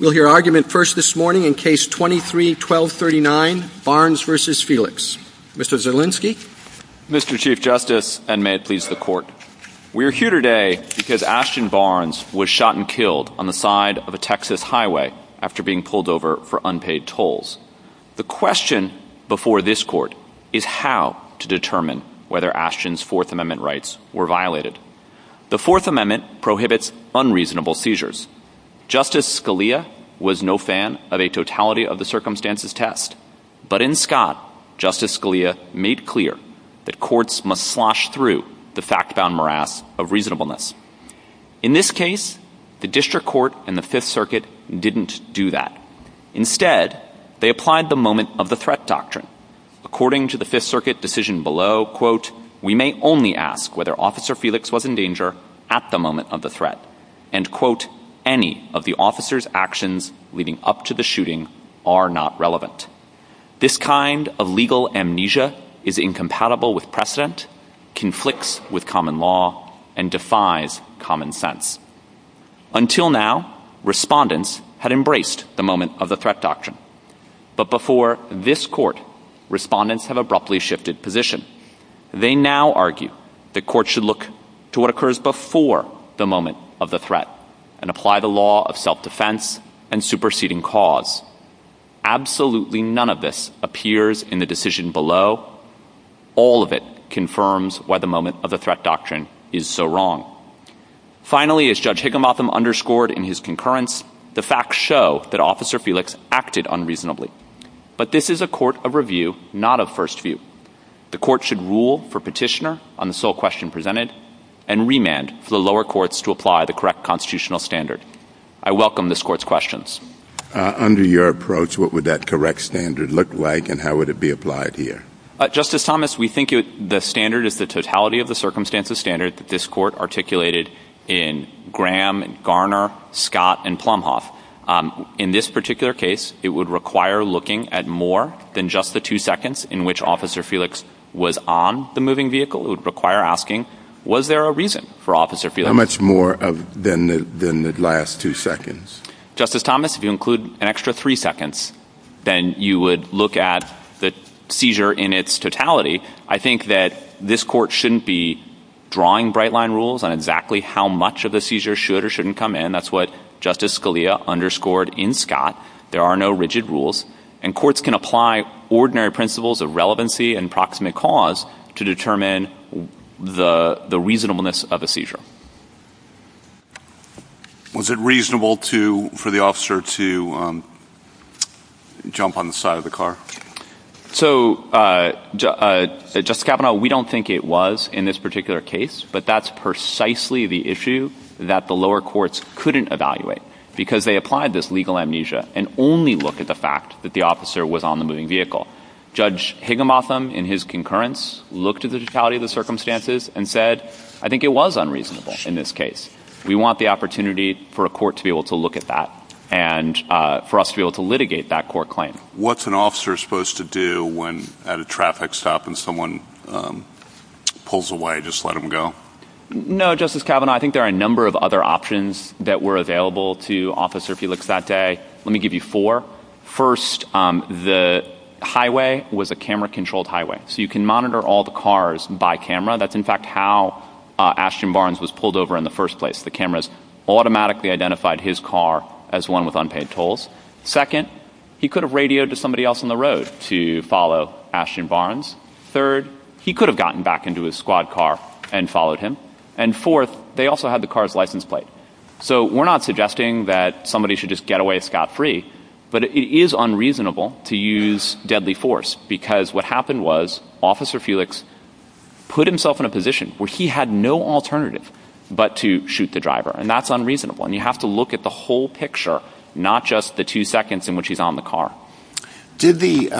We'll hear argument first this morning in Case 23-1239, Barnes v. Felix. Mr. Zielinski? Mr. Chief Justice, and may it please the Court, We are here today because Ashton Barnes was shot and killed on the side of a Texas highway after being pulled over for unpaid tolls. The question before this Court is how to determine whether Ashton's Fourth Amendment rights were violated. The Fourth Amendment prohibits unreasonable seizures. Justice Scalia was no fan of a totality-of-the-circumstances test. But in Scott, Justice Scalia made clear that courts must slosh through the fact-bound morass of reasonableness. In this case, the District Court and the Fifth Circuit didn't do that. Instead, they applied the moment-of-the-threat doctrine. According to the Fifth Circuit decision below, Until now, respondents had embraced the moment-of-the-threat doctrine. But before this Court, respondents have abruptly shifted positions. They now argue that courts should look to what occurs before the moment-of-the-threat and apply the law of self-defense and superseding cause. Absolutely none of this appears in the decision below. All of it confirms why the moment-of-the-threat doctrine is so wrong. Finally, as Judge Higginbotham underscored in his concurrence, the facts show that Officer Felix acted unreasonably. But this is a court of review, not of first view. The Court should rule for petitioner on the sole question presented and remand for the lower courts to apply the correct constitutional standard. I welcome this Court's questions. Under your approach, what would that correct standard look like and how would it be applied here? Justice Thomas, we think the standard is the totality-of-the-circumstances standard that this Court articulated in Graham, Garner, Scott, and Plumhoff. In this particular case, it would require looking at more than just the two seconds in which Officer Felix was on the moving vehicle. It would require asking, was there a reason for Officer Felix? How much more than the last two seconds? Justice Thomas, if you include an extra three seconds, then you would look at the seizure in its totality. I think that this Court shouldn't be drawing bright-line rules on exactly how much of the seizure should or shouldn't come in. That's what Justice Scalia underscored in Scott. There are no rigid rules. And courts can apply ordinary principles of relevancy and proximate cause to determine the reasonableness of a seizure. Was it reasonable for the officer to jump on the side of the car? So, Justice Kavanaugh, we don't think it was in this particular case, but that's precisely the issue that the lower courts couldn't evaluate because they applied this legal amnesia and only look at the fact that the officer was on the moving vehicle. Judge Higginbotham, in his concurrence, looked at the totality-of-the-circumstances and said, I think it was unreasonable in this case. We want the opportunity for a court to be able to look at that and for us to be able to litigate that court claim. What's an officer supposed to do when at a traffic stop and someone pulls away, just let them go? No, Justice Kavanaugh, I think there are a number of other options that were available to Officer Felix that day. Let me give you four. First, the highway was a camera-controlled highway, so you can monitor all the cars by camera. That's, in fact, how Ashton Barnes was pulled over in the first place. The cameras automatically identified his car as one with unpaid tolls. Second, he could have radioed to somebody else on the road to follow Ashton Barnes. Third, he could have gotten back into his squad car and followed him. And fourth, they also had the car's license plate. So we're not suggesting that somebody should just get away scot-free, but it is unreasonable to use deadly force because what happened was Officer Felix put himself in a position where he had no alternative but to shoot the driver, and that's unreasonable, and you have to look at the whole picture, not just the two seconds in which he's on the car. Did the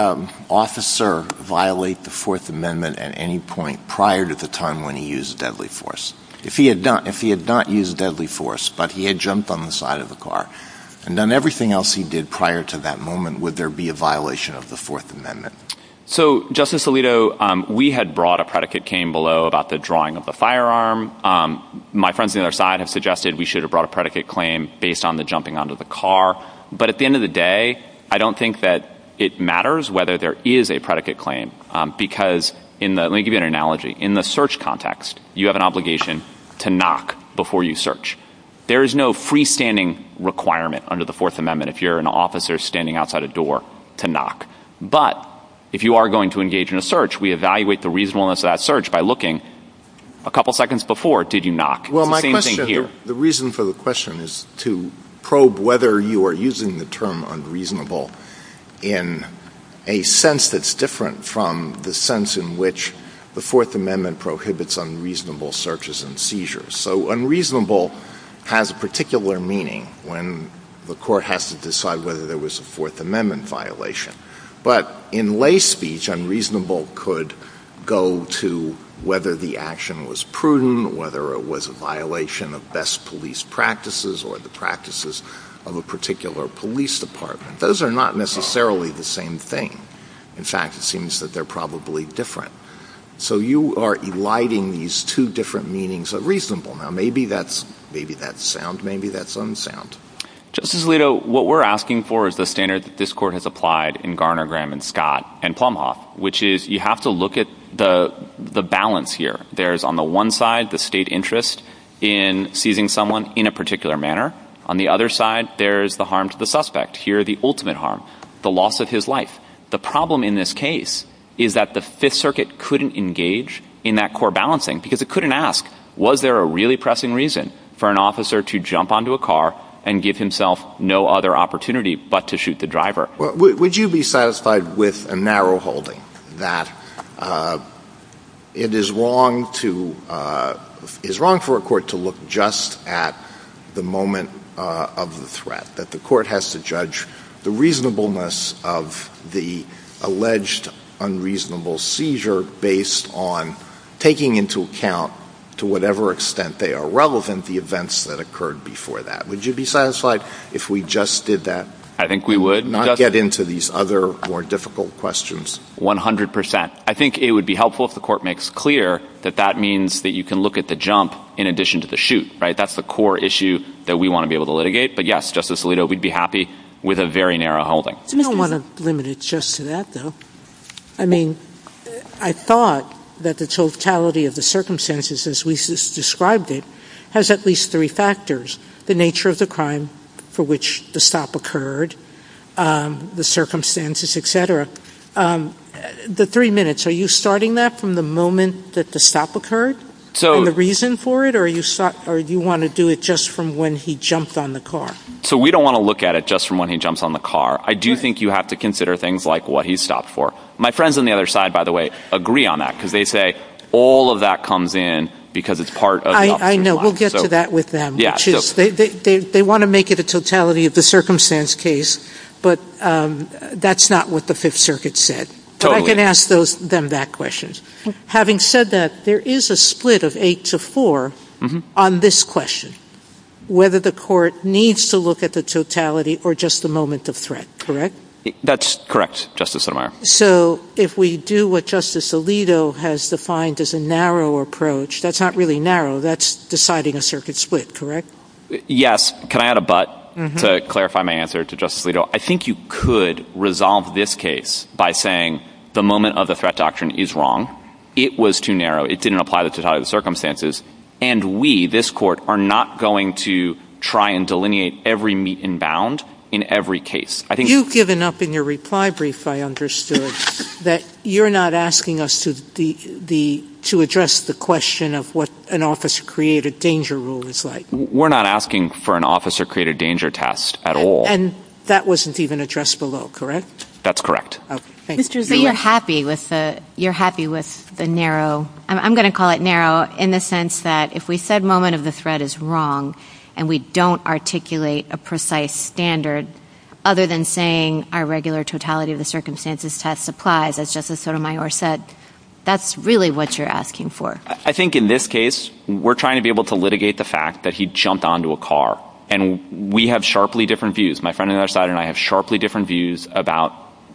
officer violate the Fourth Amendment at any point prior to the time when he used deadly force? If he had not used deadly force but he had jumped on the side of the car and done everything else he did prior to that moment, would there be a violation of the Fourth Amendment? So, Justice Alito, we had brought a predicate came below about the drawing of the firearm. My friends on the other side have suggested we should have brought a predicate claim based on the jumping onto the car. But at the end of the day, I don't think that it matters whether there is a predicate claim because, let me give you an analogy, in the search context, you have an obligation to knock before you search. There is no freestanding requirement under the Fourth Amendment if you're an officer standing outside a door to knock. But if you are going to engage in a search, we evaluate the reasonableness of that search by looking, a couple seconds before, did you knock? Well, the reason for the question is to probe whether you are using the term unreasonable in a sense that's different from the sense in which the Fourth Amendment prohibits unreasonable searches and seizures. So unreasonable has a particular meaning when the court has to decide whether there was a Fourth Amendment violation. But in lay speech, unreasonable could go to whether the action was prudent, whether it was a violation of best police practices or the practices of a particular police department. Those are not necessarily the same thing. In fact, it seems that they're probably different. So you are eliding these two different meanings of reasonable. Now, maybe that's sound, maybe that's unsound. Justice Alito, what we're asking for is the standard that this Court has applied in Garner, Graham, and Scott and Plumhoff, which is you have to look at the balance here. There's, on the one side, the state interest in seizing someone in a particular manner. On the other side, there's the harm to the suspect. Here, the ultimate harm, the loss of his life. The problem in this case is that the Fifth Circuit couldn't engage in that core balancing because it couldn't ask, was there a really pressing reason for an officer to jump onto a car and give himself no other opportunity but to shoot the driver? Would you be satisfied with a narrow holding that it is wrong for a court to look just at the moment of the threat, that the court has to judge the reasonableness of the alleged unreasonable seizure based on taking into account, to whatever extent they are relevant, the events that occurred before that? Would you be satisfied if we just did that? I think we would. Not get into these other more difficult questions. 100%. I think it would be helpful if the court makes clear that that means that you can look at the jump in addition to the shoot, right? That's the core issue that we want to be able to litigate. But yes, Justice Alito, we'd be happy with a very narrow holding. I don't want to limit it just to that, though. I mean, I thought that the totality of the circumstances as we just described it has at least three factors. The nature of the crime for which the stop occurred, the circumstances, et cetera. The three minutes, are you starting that from the moment that the stop occurred and the reason for it? Or do you want to do it just from when he jumped on the car? So we don't want to look at it just from when he jumps on the car. I do think you have to consider things like what he stopped for. My friends on the other side, by the way, agree on that because they say all of that comes in because it's part of... I know. We'll get to that with them. They want to make it a totality of the circumstance case, but that's not what the Fifth Circuit said. I can ask them that question. Having said that, there is a split of eight to four on this question, whether the court needs to look at the totality or just the moment of threat, correct? That's correct, Justice Sotomayor. So if we do what Justice Alito has defined as a narrow approach, that's not really narrow, that's deciding a circuit split, correct? Yes. Can I add a but to clarify my answer to Justice Alito? I think you could resolve this case by saying the moment of the threat doctrine is wrong, it was too narrow, it didn't apply to the totality of the circumstances, and we, this court, are not going to try and delineate every meat and bound in every case. You've given up in your reply brief, I understood, that you're not asking us to address the question of what an officer-created danger rule is like. We're not asking for an officer-created danger test at all. And that wasn't even addressed below, correct? That's correct. But you're happy with the narrow, I'm going to call it narrow, in the sense that if we said moment of the threat is wrong and we don't articulate a precise standard, other than saying our regular totality of the circumstances test applies, as Justice Sotomayor said, that's really what you're asking for. I think in this case, we're trying to be able to litigate the fact that he jumped onto a car, and we have sharply different views. My friend and I have sharply different views about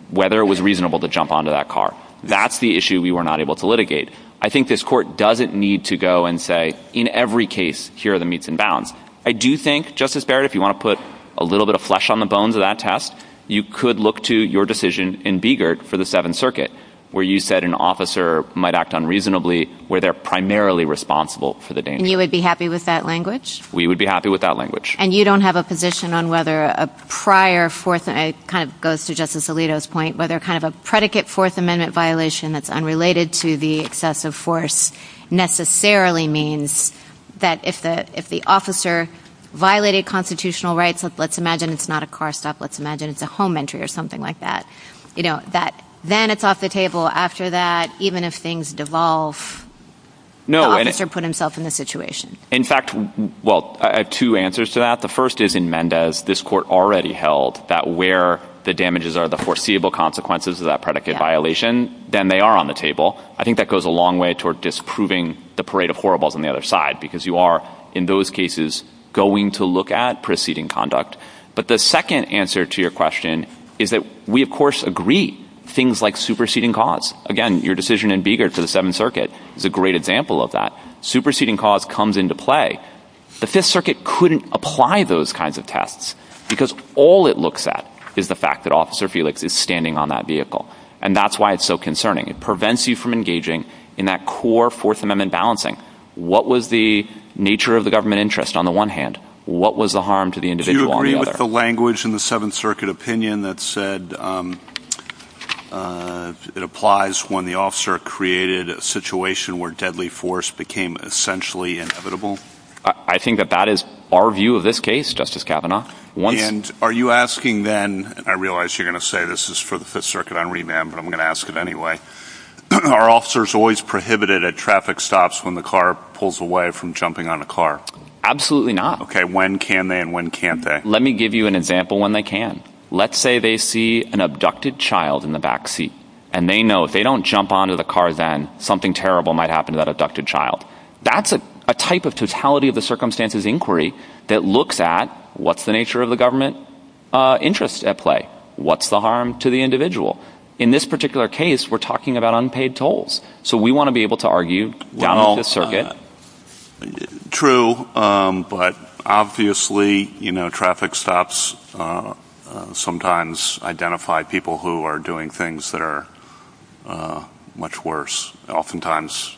whether it was reasonable to jump onto that car. That's the issue we were not able to litigate. I think this court doesn't need to go and say, in every case, here are the meats and bounds. I do think, Justice Barrett, if you want to put a little bit of flesh on the bones of that test, you could look to your decision in Beigert for the Seventh Circuit, where you said an officer might act unreasonably where they're primarily responsible for the danger. And you would be happy with that language? We would be happy with that language. And you don't have a position on whether a prior Fourth Amendment, and it kind of goes to Justice Alito's point, whether kind of a predicate Fourth Amendment violation that's unrelated to the excessive force necessarily means that if the officer violated constitutional rights, let's imagine it's not a car stop, let's imagine it's a home entry or something like that, you know, then it's off the table. After that, even if things devolve, the officer put himself in the situation. In fact, well, I have two answers to that. The first is, in Mendez, this court already held that where the damages are the foreseeable consequences of that predicate violation, then they are on the table. I think that goes a long way toward disproving the parade of horribles on the other side, because you are, in those cases, going to look at preceding conduct. But the second answer to your question is that we, of course, agree things like superseding cause. Again, your decision in Beigert for the Seventh Circuit is a great example of that. Superseding cause comes into play. The Fifth Circuit couldn't apply those kinds of tests because all it looks at is the fact that Officer Felix is standing on that vehicle, and that's why it's so concerning. It prevents you from engaging in that core Fourth Amendment balancing. What was the nature of the government interest on the one hand? What was the harm to the individual on the other? Do you agree with the language in the Seventh Circuit opinion that said it applies when the officer created a situation where deadly force became essentially inevitable? I think that that is our view of this case, Justice Kavanaugh. And are you asking then... I realize you're going to say this is for the Fifth Circuit. I'm not going to ask it on remand, but I'm going to ask it anyway. Are officers always prohibited at traffic stops when the car pulls away from jumping on the car? Absolutely not. Okay, when can they and when can't they? Let me give you an example when they can. Let's say they see an abducted child in the back seat, and they know if they don't jump onto the car then, something terrible might happen to that abducted child. That's a type of totality of the circumstances inquiry that looks at what's the nature of the government interest at play. What's the harm to the individual? In this particular case, we're talking about unpaid tolls. So we want to be able to argue with the Fifth Circuit. True, but obviously traffic stops sometimes identify people who are doing things that are much worse. Oftentimes,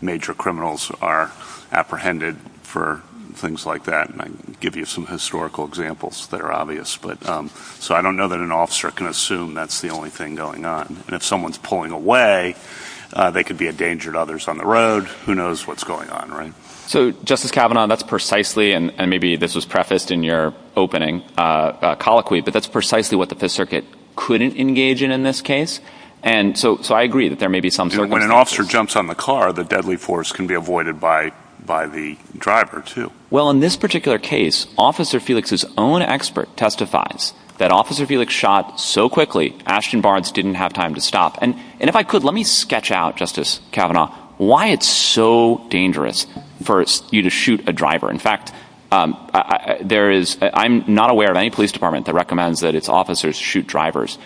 major criminals are apprehended for things like that. I can give you some historical examples that are obvious. So I don't know that an officer can assume that's the only thing going on. If someone's pulling away, they could be a danger to others on the road. Who knows what's going on, right? So Justice Kavanaugh, that's precisely, and maybe this was prefaced in your opening colloquy, but that's precisely what the Fifth Circuit couldn't engage in in this case. So I agree that there may be some sort of... When an officer jumps on the car, the deadly force can be avoided by the driver too. Well, in this particular case, Officer Felix's own expert testifies that Officer Felix shot so quickly, Ashton Barnes didn't have time to stop. And if I could, let me sketch out, Justice Kavanaugh, why it's so dangerous for you to shoot a driver. In fact, I'm not aware of any police department that recommends that its officers shoot drivers.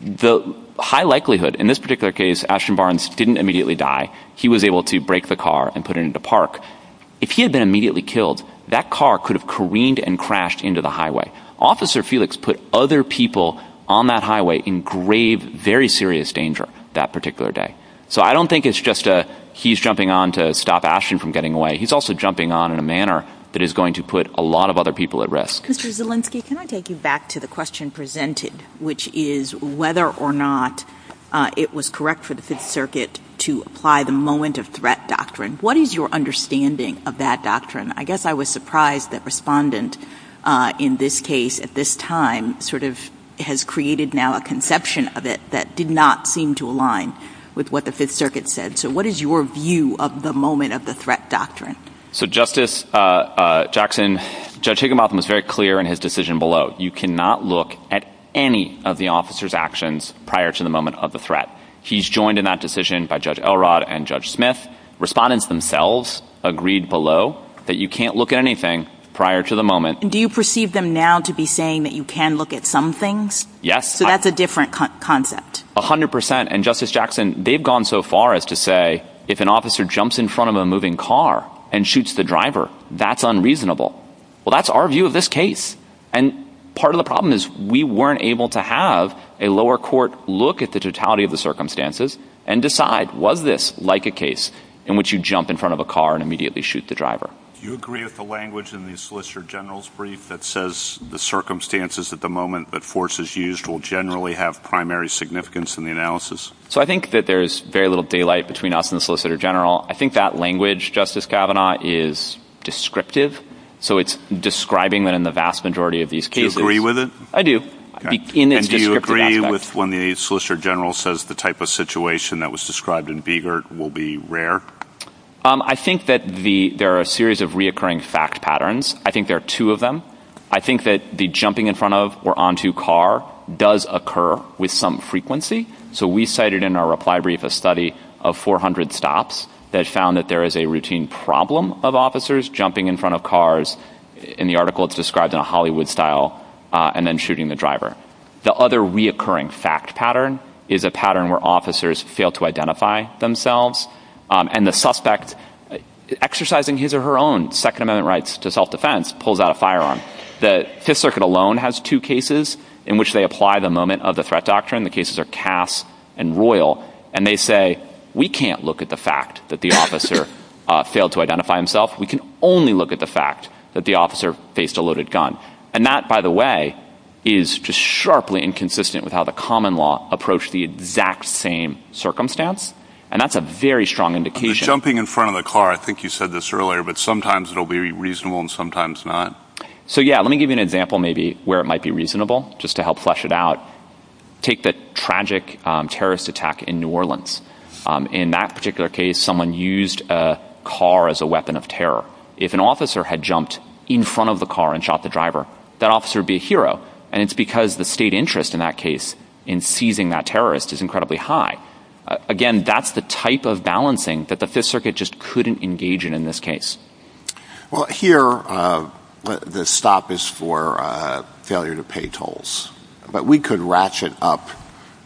The high likelihood, in this particular case, Ashton Barnes didn't immediately die. He was able to break the car and put it into park. If he had been immediately killed, that car could have careened and crashed into the highway. Officer Felix put other people on that highway in grave, very serious danger that particular day. So I don't think it's just he's jumping on to stop Ashton from getting away. He's also jumping on in a manner that is going to put a lot of other people at risk. Justice Olinsky, can I take you back to the question presented, which is whether or not it was correct for the Fifth Circuit to apply the moment of threat doctrine? What is your understanding of that doctrine? I guess I was surprised that Respondent, in this case, at this time, sort of has created now a conception of it that did not seem to align with what the Fifth Circuit said. So what is your view of the moment of the threat doctrine? So Justice Jackson, Judge Higginbotham was very clear in his decision below. You cannot look at any of the officer's actions prior to the moment of the threat. He's joined in that decision by Judge Elrod and Judge Smith. Respondents themselves agreed below that you can't look at anything prior to the moment. Do you perceive them now to be saying that you can look at some things? Yes. So that's a different concept. A hundred percent. And Justice Jackson, they've gone so far as to say if an officer jumps in front of a moving car and shoots the driver, that's unreasonable. Well, that's our view of this case. And part of the problem is we weren't able to have a lower court look at the totality of the circumstances and decide, was this like a case in which you jump in front of a car and immediately shoot the driver? Do you agree with the language in the Solicitor General's brief that says the circumstances at the moment that force is used will generally have primary significance in the analysis? So I think that there's very little daylight between us and the Solicitor General. I think that language, Justice Kavanaugh, is descriptive. So it's describing in the vast majority of these cases. Do you agree with it? I do. And do you agree with when the Solicitor General says the type of situation that was described in Begert will be rare? I think that there are a series of reoccurring fact patterns. I think there are two of them. I think that the jumping in front of or onto a car does occur with some frequency. So we cited in our reply brief a study of 400 stops that found that there is a routine problem of officers jumping in front of cars. In the article, it's described in a Hollywood style and then shooting the driver. The other reoccurring fact pattern is a pattern where officers fail to identify themselves. And the suspect, exercising his or her own Second Amendment rights to self-defense, pulls out a firearm. The Fifth Circuit alone has two cases in which they apply the moment of the threat doctrine. The cases are Cass and Royal. And they say, we can't look at the fact that the officer failed to identify himself. We can only look at the fact that the officer faced a loaded gun. And that, by the way, is just sharply inconsistent with how the common law approached the exact same circumstance. And that's a very strong indication... The jumping in front of the car, I think you said this earlier, but sometimes it'll be reasonable and sometimes not. So yeah, let me give you an example maybe where it might be reasonable, just to help flesh it out. Take the tragic terrorist attack in New Orleans. In that particular case, someone used a car as a weapon of terror. If an officer had jumped in front of the car and shot the driver, that officer would be a hero. And it's because the state interest in that case, in seizing that terrorist, is incredibly high. Again, that's the type of balancing that the Fifth Circuit just couldn't engage in in this case. Well, here, the stop is for failure to pay tolls. But we could ratchet up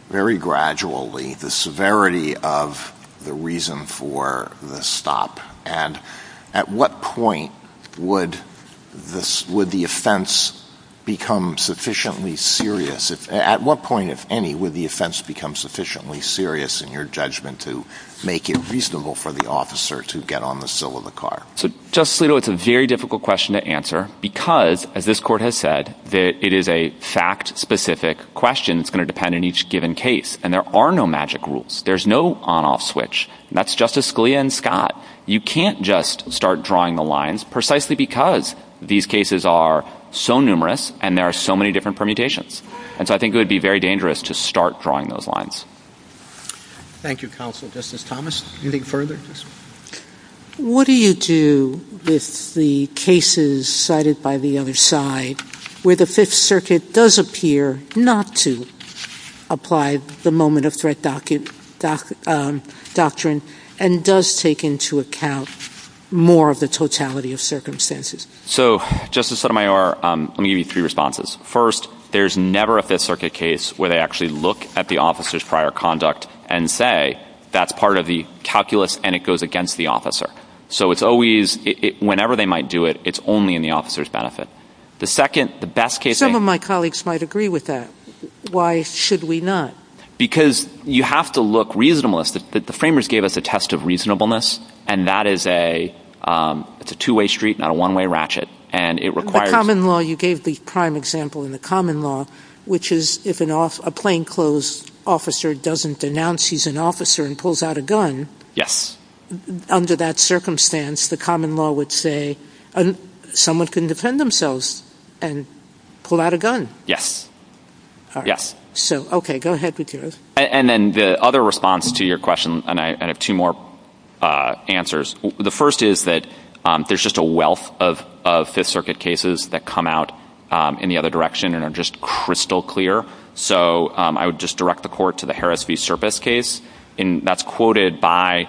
very gradually the severity of the reason for the stop. And at what point would the offense become sufficiently serious? At what point, if any, would the offense become sufficiently serious in your judgment to make it reasonable for the officer to get on the sill of the car? So, Justice Alito, it's a very difficult question to answer because, as this Court has said, it is a fact-specific question that's going to depend on each given case. And there are no magic rules. There's no on-off switch. And that's Justice Scalia and Scott. You can't just start drawing the lines precisely because these cases are so numerous and there are so many different permutations. And so I think it would be very dangerous to start drawing those lines. Thank you, Counsel. Justice Thomas, anything further? What do you do with the cases cited by the other side where the Fifth Circuit does appear not to apply the moment-of-threat doctrine and does take into account more of the totality of circumstances? So, Justice Sotomayor, let me give you three responses. First, there's never a Fifth Circuit case where they actually look at the officer's prior conduct and say that's part of the calculus and it goes against the officer. So it's always, whenever they might do it, it's only in the officer's benefit. The second, the best case... Some of my colleagues might agree with that. Why should we not? Because you have to look reasonableness. The framers gave us a test of reasonableness and that is a two-way street, not a one-way ratchet. And it requires... The common law, you gave the prime example in the common law, which is if a plainclothes officer doesn't denounce he's an officer and pulls out a gun... Yes. ...under that circumstance, the common law would say someone can defend themselves and pull out a gun. Yes. All right. Yes. So, okay, go ahead, Peter. And then the other response to your question, and I have two more answers. The first is that there's just a wealth of Fifth Circuit cases that come out in the other direction and are just crystal clear. So I would just direct the Court to the Harris v. Serpis case, and that's quoted by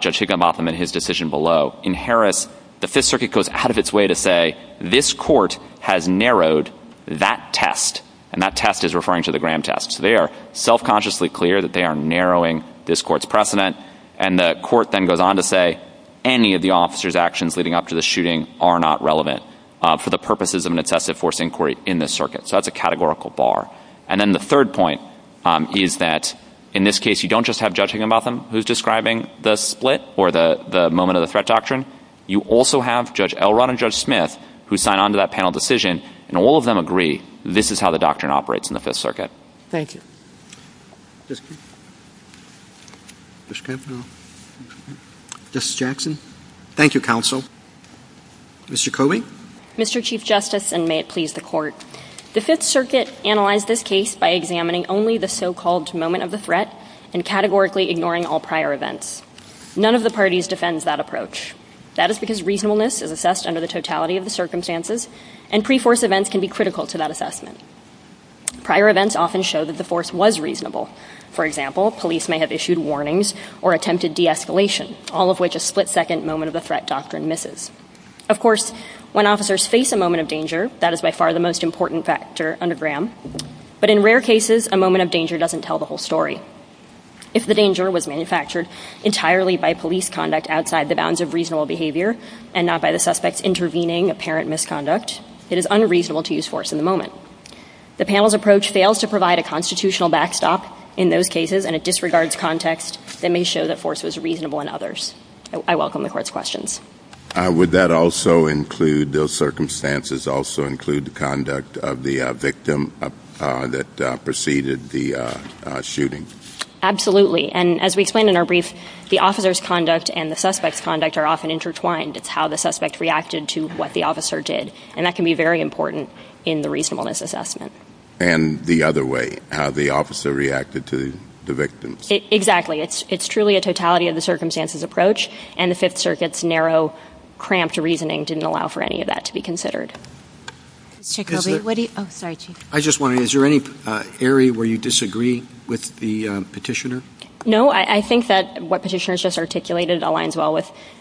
Judge Higginbotham in his decision below. In Harris, the Fifth Circuit goes out of its way to say this Court has narrowed that test, and that test is referring to the Graham test. So they are self-consciously clear that they are narrowing this Court's precedent, and the Court then goes on to say any of the officers' actions leading up to the shooting are not relevant for the purposes of an excessive force inquiry in this circuit. So that's a categorical bar. And then the third point is that, in this case, you don't just have Judge Higginbotham who's describing the split or the moment of the threat doctrine. You also have Judge Elrod and Judge Smith, who sign on to that panel decision, and all of them agree this is how the doctrine operates in the Fifth Circuit. Thank you. Justice Jackson. Thank you, Counsel. Mr. Koehling. Mr. Chief Justice, and may it please the Court, the Fifth Circuit analyzed this case by examining only the so-called moment of the threat and categorically ignoring all prior events. None of the parties defends that approach. That is because reasonableness is assessed under the totality of the circumstances, and pre-force events can be critical to that assessment. Prior events often show that the force was reasonable. For example, police may have issued warnings or attempted de-escalation, all of which a split-second moment of the threat doctrine misses. Of course, when officers face a moment of danger, that is by far the most important factor under Graham. But in rare cases, a moment of danger doesn't tell the whole story. If the danger was manufactured entirely by police conduct outside the bounds of reasonable behavior and not by the suspect's intervening apparent misconduct, it is unreasonable to use force in the moment. The panel's approach fails to provide a constitutional backstop in those cases and it disregards context that may show that force was reasonable in others. I welcome the Court's questions. Would that also include, those circumstances also include, the conduct of the victim that preceded the shooting? Absolutely, and as we explained in our brief, the officer's conduct and the suspect's conduct are often intertwined. It's how the suspect reacted to what the officer did, and that can be very important in the reasonableness assessment. And the other way, how the officer reacted to the victim? Exactly. It's truly a totality of the circumstances approach, and the Fifth Circuit's narrow, cramped reasoning didn't allow for any of that to be considered. I just want to know, is there any area where you disagree with the petitioner? No, I think that what petitioner has just articulated aligns well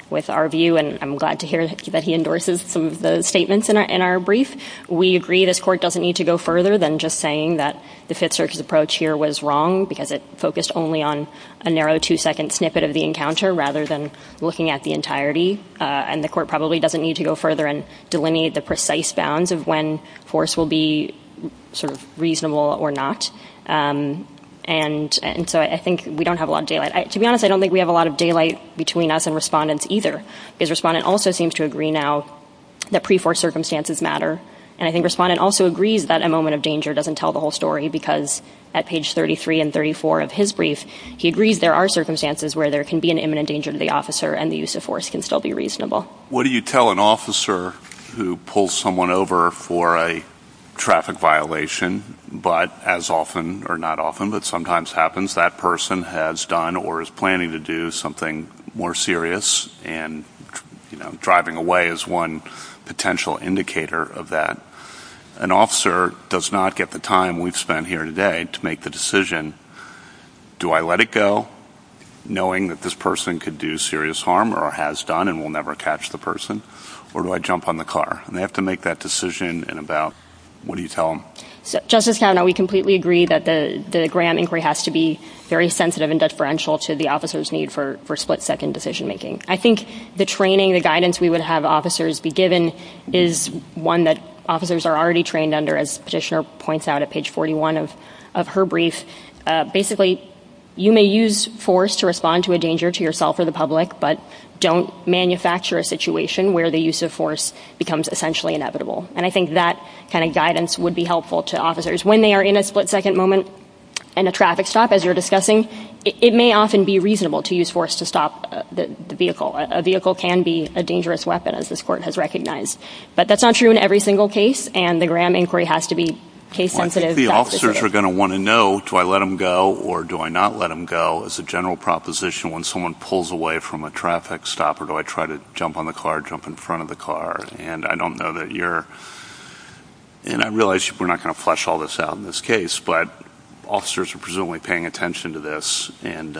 with our view, and I'm glad to hear that he endorses some of the statements in our brief. We agree this Court doesn't need to go further than just saying that the Fifth Circuit's approach here was wrong, because it focused only on a narrow two-second snippet of the encounter rather than looking at the entirety. And the Court probably doesn't need to go further and delineate the precise bounds of when force will be sort of reasonable or not. And so I think we don't have a lot of daylight. To be honest, I don't think we have a lot of daylight between us and respondents either. This respondent also seems to agree now that pre-force circumstances matter, and I think the respondent also agrees that a moment of danger doesn't tell the whole story, because at page 33 and 34 of his brief, he agrees there are circumstances where there can be an imminent danger to the officer, and the use of force can still be reasonable. What do you tell an officer who pulls someone over for a traffic violation, but as often, or not often, but sometimes happens, that person has done or is planning to do something more serious, and driving away is one potential indicator of that? An officer does not get the time we've spent here today to make the decision, do I let it go, knowing that this person could do serious harm or has done and will never catch the person, or do I jump on the car? They have to make that decision, and what do you tell them? Justice Kavanaugh, we completely agree that the grand inquiry has to be very sensitive and deferential to the officer's need for split-second decision-making. I think the training, the guidance we would have officers be given, is one that officers are already trained under, as the petitioner points out at page 41 of her brief. Basically, you may use force to respond to a danger to yourself or the public, but don't manufacture a situation where the use of force becomes essentially inevitable. And I think that kind of guidance would be helpful to officers. When they are in a split-second moment in a traffic stop, as you were discussing, it may often be reasonable to use force to stop the vehicle. A vehicle can be a dangerous weapon, as this Court has recognized. But that's not true in every single case, and the grand inquiry has to be case-sensitive. I think the officers are going to want to know, do I let him go or do I not let him go, as a general proposition when someone pulls away from a traffic stop, or do I try to jump on the car, jump in front of the car? And I don't know that you're – and I realize we're not going to flesh all this out in this case, but officers are presumably paying attention to this, and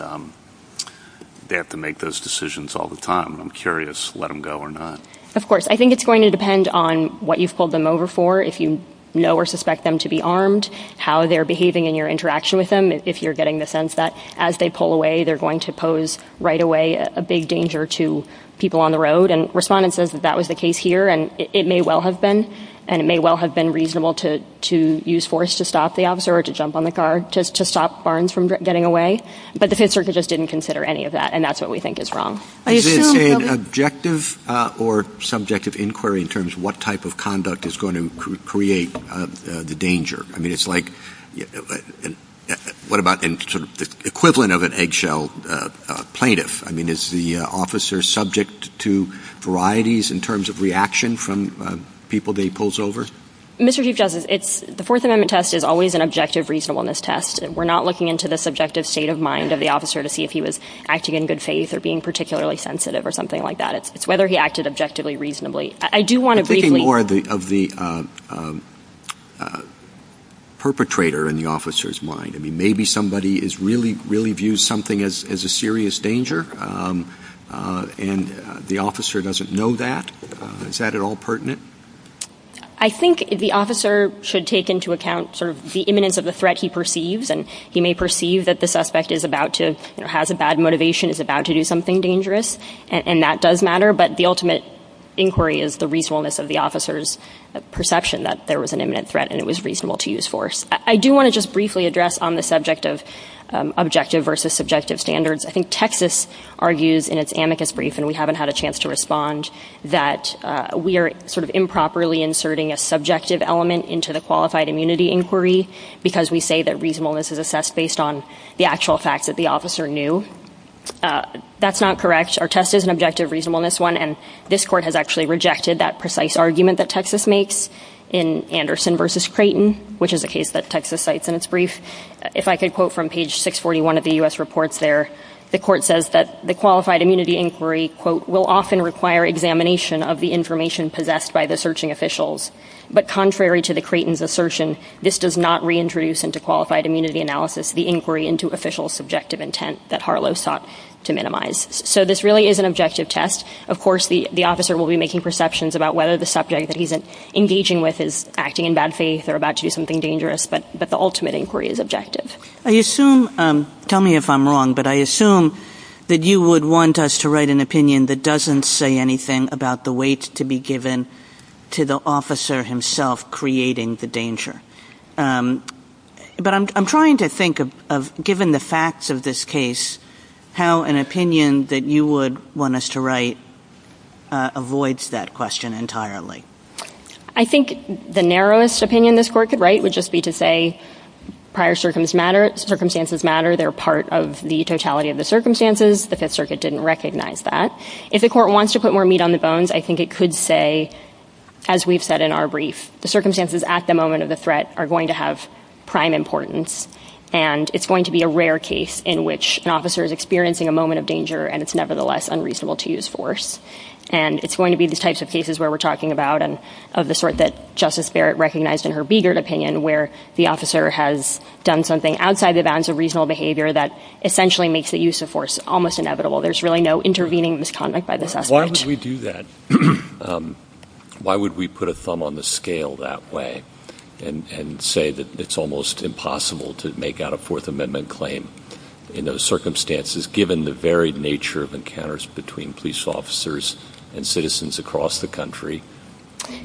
they have to make those decisions all the time. I'm curious, let him go or not. Of course. I think it's going to depend on what you've pulled them over for, if you know or suspect them to be armed, how they're behaving in your interaction with them, if you're getting the sense that as they pull away, they're going to pose right away a big danger to people on the road. And Respondent says that that was the case here, and it may well have been, and it may well have been reasonable to use force to stop the officer or to jump on the car to stop Barnes from getting away. But the Fifth Circuit just didn't consider any of that, and that's what we think is wrong. Is it an objective or subjective inquiry in terms of what type of conduct is going to create the danger? I mean, it's like, what about the equivalent of an eggshell plaintiff? I mean, is the officer subject to varieties in terms of reaction from people that he pulls over? Mr. Chief Justice, the Fourth Amendment test is always an objective reasonableness test. We're not looking into the subjective state of mind of the officer to see if he was acting in good faith or being particularly sensitive or something like that. It's whether he acted objectively reasonably. I'm thinking more of the perpetrator in the officer's mind. I mean, maybe somebody really views something as a serious danger, and the officer doesn't know that. Is that at all pertinent? I think the officer should take into account sort of the imminence of the threat he perceives, and he may perceive that the suspect has a bad motivation, is about to do something dangerous, and that does matter, but the ultimate inquiry is the reasonableness of the officer's perception that there was an imminent threat and it was reasonable to use force. I do want to just briefly address on the subject of objective versus subjective standards. I think Texas argues in its amicus brief, and we haven't had a chance to respond, that we are sort of improperly inserting a subjective element into the qualified immunity inquiry because we say that reasonableness is assessed based on the actual fact that the officer knew. That's not correct. Our test is an objective reasonableness one, and this court has actually rejected that precise argument that Texas makes in Anderson versus Creighton, which is a case that Texas cites in its brief. If I could quote from page 641 of the U.S. reports there, the court says that the qualified immunity inquiry, quote, will often require examination of the information possessed by the searching officials, but contrary to the Creighton's assertion, this does not reintroduce into qualified immunity analysis the inquiry into official subjective intent that Harlow sought to minimize. So this really is an objective test. Of course, the officer will be making perceptions about whether the subject that he's engaging with is acting in bad faith or about to do something dangerous, but the ultimate inquiry is objective. I assume, tell me if I'm wrong, but I assume that you would want us to write an opinion that doesn't say anything about the weight to be given to the officer himself creating the danger. But I'm trying to think of, given the facts of this case, how an opinion that you would want us to write avoids that question entirely. I think the narrowest opinion this court could write would just be to say, prior circumstances matter, they're part of the totality of the circumstances, the Fifth Circuit didn't recognize that. If the court wants to put more meat on the bones, I think it could say, as we've said in our brief, the circumstances at the moment of the threat are going to have prime importance and it's going to be a rare case in which an officer is experiencing a moment of danger and it's nevertheless unreasonable to use force. And it's going to be the types of cases where we're talking about and of the sort that Justice Barrett recognized in her Begert opinion where the officer has done something outside the bounds of reasonable behavior that essentially makes the use of force almost inevitable. There's really no intervening misconduct by the suspect. Why would we do that? Why would we put a thumb on the scale that way and say that it's almost impossible to make out a Fourth Amendment claim in those circumstances given the very nature of encounters between police officers and citizens across the country,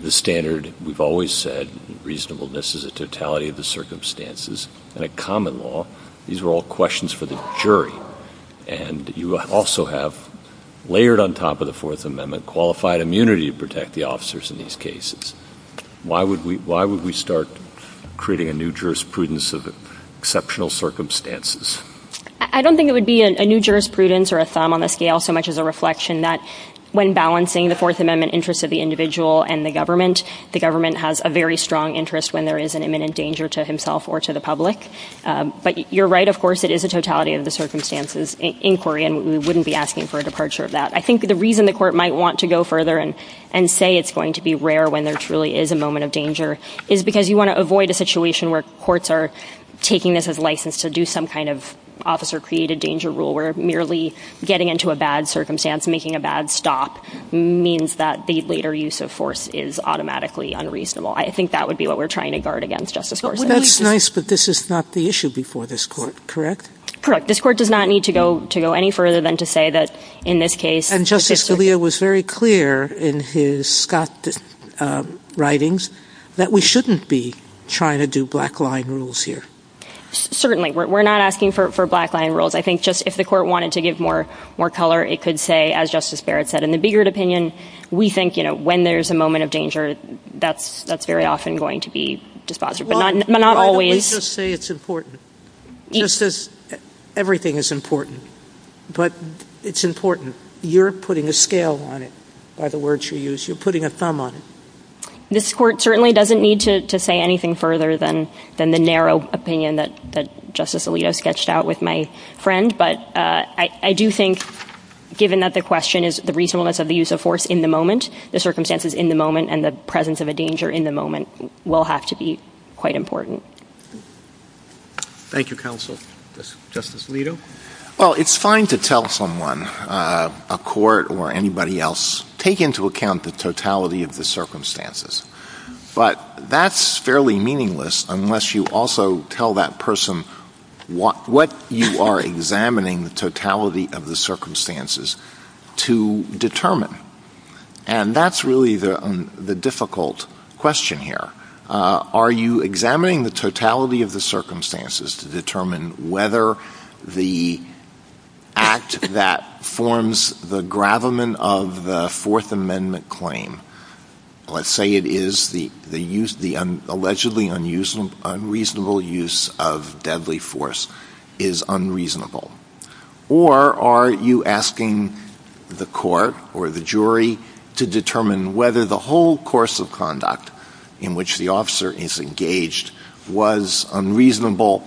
the standard we've always said, reasonableness is a totality of the circumstances, and a common law, these are all questions for the jury. And you also have layered on top of the Fourth Amendment qualified immunity to protect the officers in these cases. Why would we start creating a new jurisprudence of exceptional circumstances? I don't think it would be a new jurisprudence or a thumb on the scale so much as a reflection that when balancing the Fourth Amendment interest of the individual and the government, the government has a very strong interest when there is an imminent danger to himself or to the public. But you're right, of course, it is a totality of the circumstances inquiry and we wouldn't be asking for a departure of that. I think the reason the court might want to go further and say it's going to be rare when there truly is a moment of danger is because you want to avoid a situation where courts are taking this as license to do some kind of officer-created danger rule where merely getting into a bad circumstance, making a bad stop, means that the later use of force is automatically unreasonable. I think that would be what we're trying to guard against, Justice Gorsuch. That's nice, but this is not the issue before this court, correct? Correct. This court does not need to go any further than to say that in this case... And Justice Scalia was very clear in his Scott writings that we shouldn't be trying to do black-line rules here. Certainly. We're not asking for black-line rules. I think just if the court wanted to give more color, it could say, as Justice Barrett said, in the bigger opinion, we think when there's a moment of danger, that's very often going to be dispositive, but not always. Let me just say it's important. Everything is important, but it's important. You're putting a scale on it, by the words you use. You're putting a thumb on it. This court certainly doesn't need to say anything further than the narrow opinion that Justice Alito sketched out with my friend, but I do think, given that the question is the reasonableness of the use of force in the moment, the circumstances in the moment, and the presence of a danger in the moment, will have to be quite important. Thank you, counsel. Justice Alito? Well, it's fine to tell someone, a court or anybody else, take into account the totality of the circumstances, but that's fairly meaningless unless you also tell that person what you are examining, the totality of the circumstances, to determine. And that's really the difficult question here. Are you examining the totality of the circumstances to determine whether the act that forms the gravamen of the Fourth Amendment claim, let's say it is the allegedly unreasonable use of deadly force, is unreasonable? Or are you asking the court or the jury to determine whether the whole course of conduct in which the officer is engaged was unreasonable,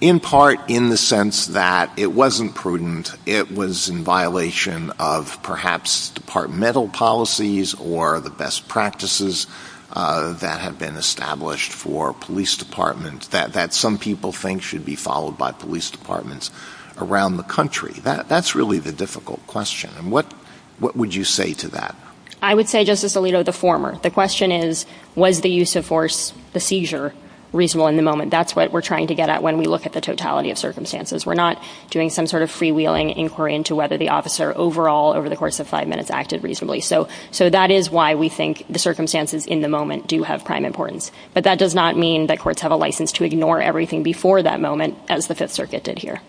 in part in the sense that it wasn't prudent, it was in violation of perhaps departmental policies or the best practices that have been established for police departments, that some people think should be followed by police departments around the country? That's really the difficult question. And what would you say to that? I would say, Justice Alito, the former. The question is, was the use of force, the seizure, reasonable in the moment? That's what we're trying to get at when we look at the totality of circumstances. We're not doing some sort of freewheeling inquiry into whether the officer overall, over the course of five minutes, acted reasonably. So that is why we think the circumstances in the moment do have prime importance. But that does not mean that courts have a license to ignore everything before that moment, as the Fifth Circuit did here.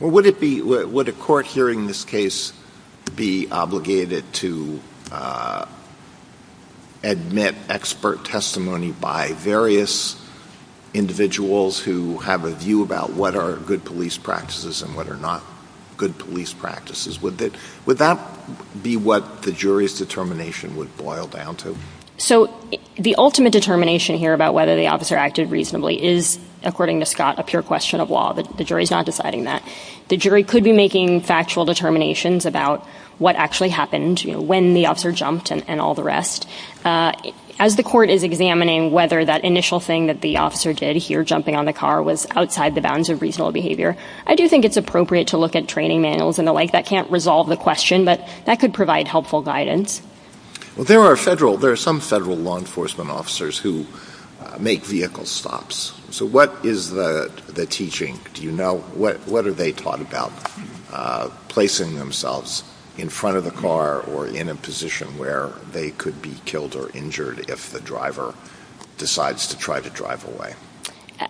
Would a court hearing this case be obligated to admit expert testimony by various individuals who have a view about what are good police practices and what are not good police practices? Would that be what the jury's determination would boil down to? So the ultimate determination here about whether the officer acted reasonably is, according to Scott, a pure question of law. The jury's not deciding that. The jury could be making factual determinations about what actually happened, when the officer jumped and all the rest. As the court is examining whether that initial thing that the officer did here, jumping on the car, was outside the bounds of reasonable behavior, I do think it's appropriate to look at training manuals and the like. That can't resolve the question, but that could provide helpful guidance. There are some federal law enforcement officers who make vehicle stops. So what is the teaching? What are they taught about placing themselves in front of the car or in a position where they could be killed or injured if the driver decides to try to drive away?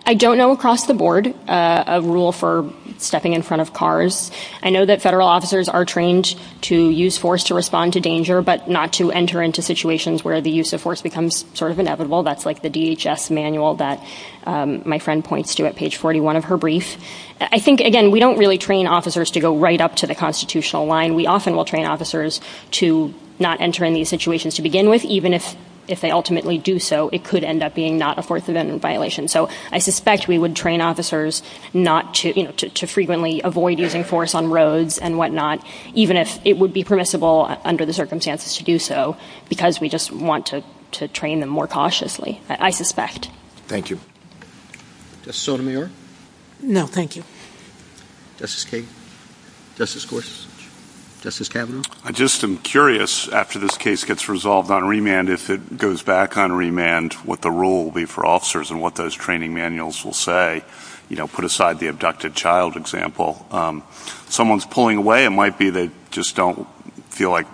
I don't know across the board a rule for stepping in front of cars. I know that federal officers are trained to use force to respond to danger, but not to enter into situations where the use of force becomes sort of inevitable. That's like the DHS manual that my friend points to at page 41 of her brief. I think, again, we don't really train officers to go right up to the constitutional line. We often will train officers to not enter in these situations to begin with, even if they ultimately do so, it could end up being not a force of violation. So I suspect we would train officers to frequently avoid using force on roads and whatnot, even if it would be permissible under the circumstances to do so, because we just want to train them more cautiously, I suspect. Thank you. Justice Sotomayor? No, thank you. Justice King? Justice Gorsuch? Justice Kavanaugh? I just am curious, after this case gets resolved on remand, and if it goes back on remand, what the rule will be for officers and what those training manuals will say, put aside the abducted child example. If someone's pulling away, it might be they just don't feel like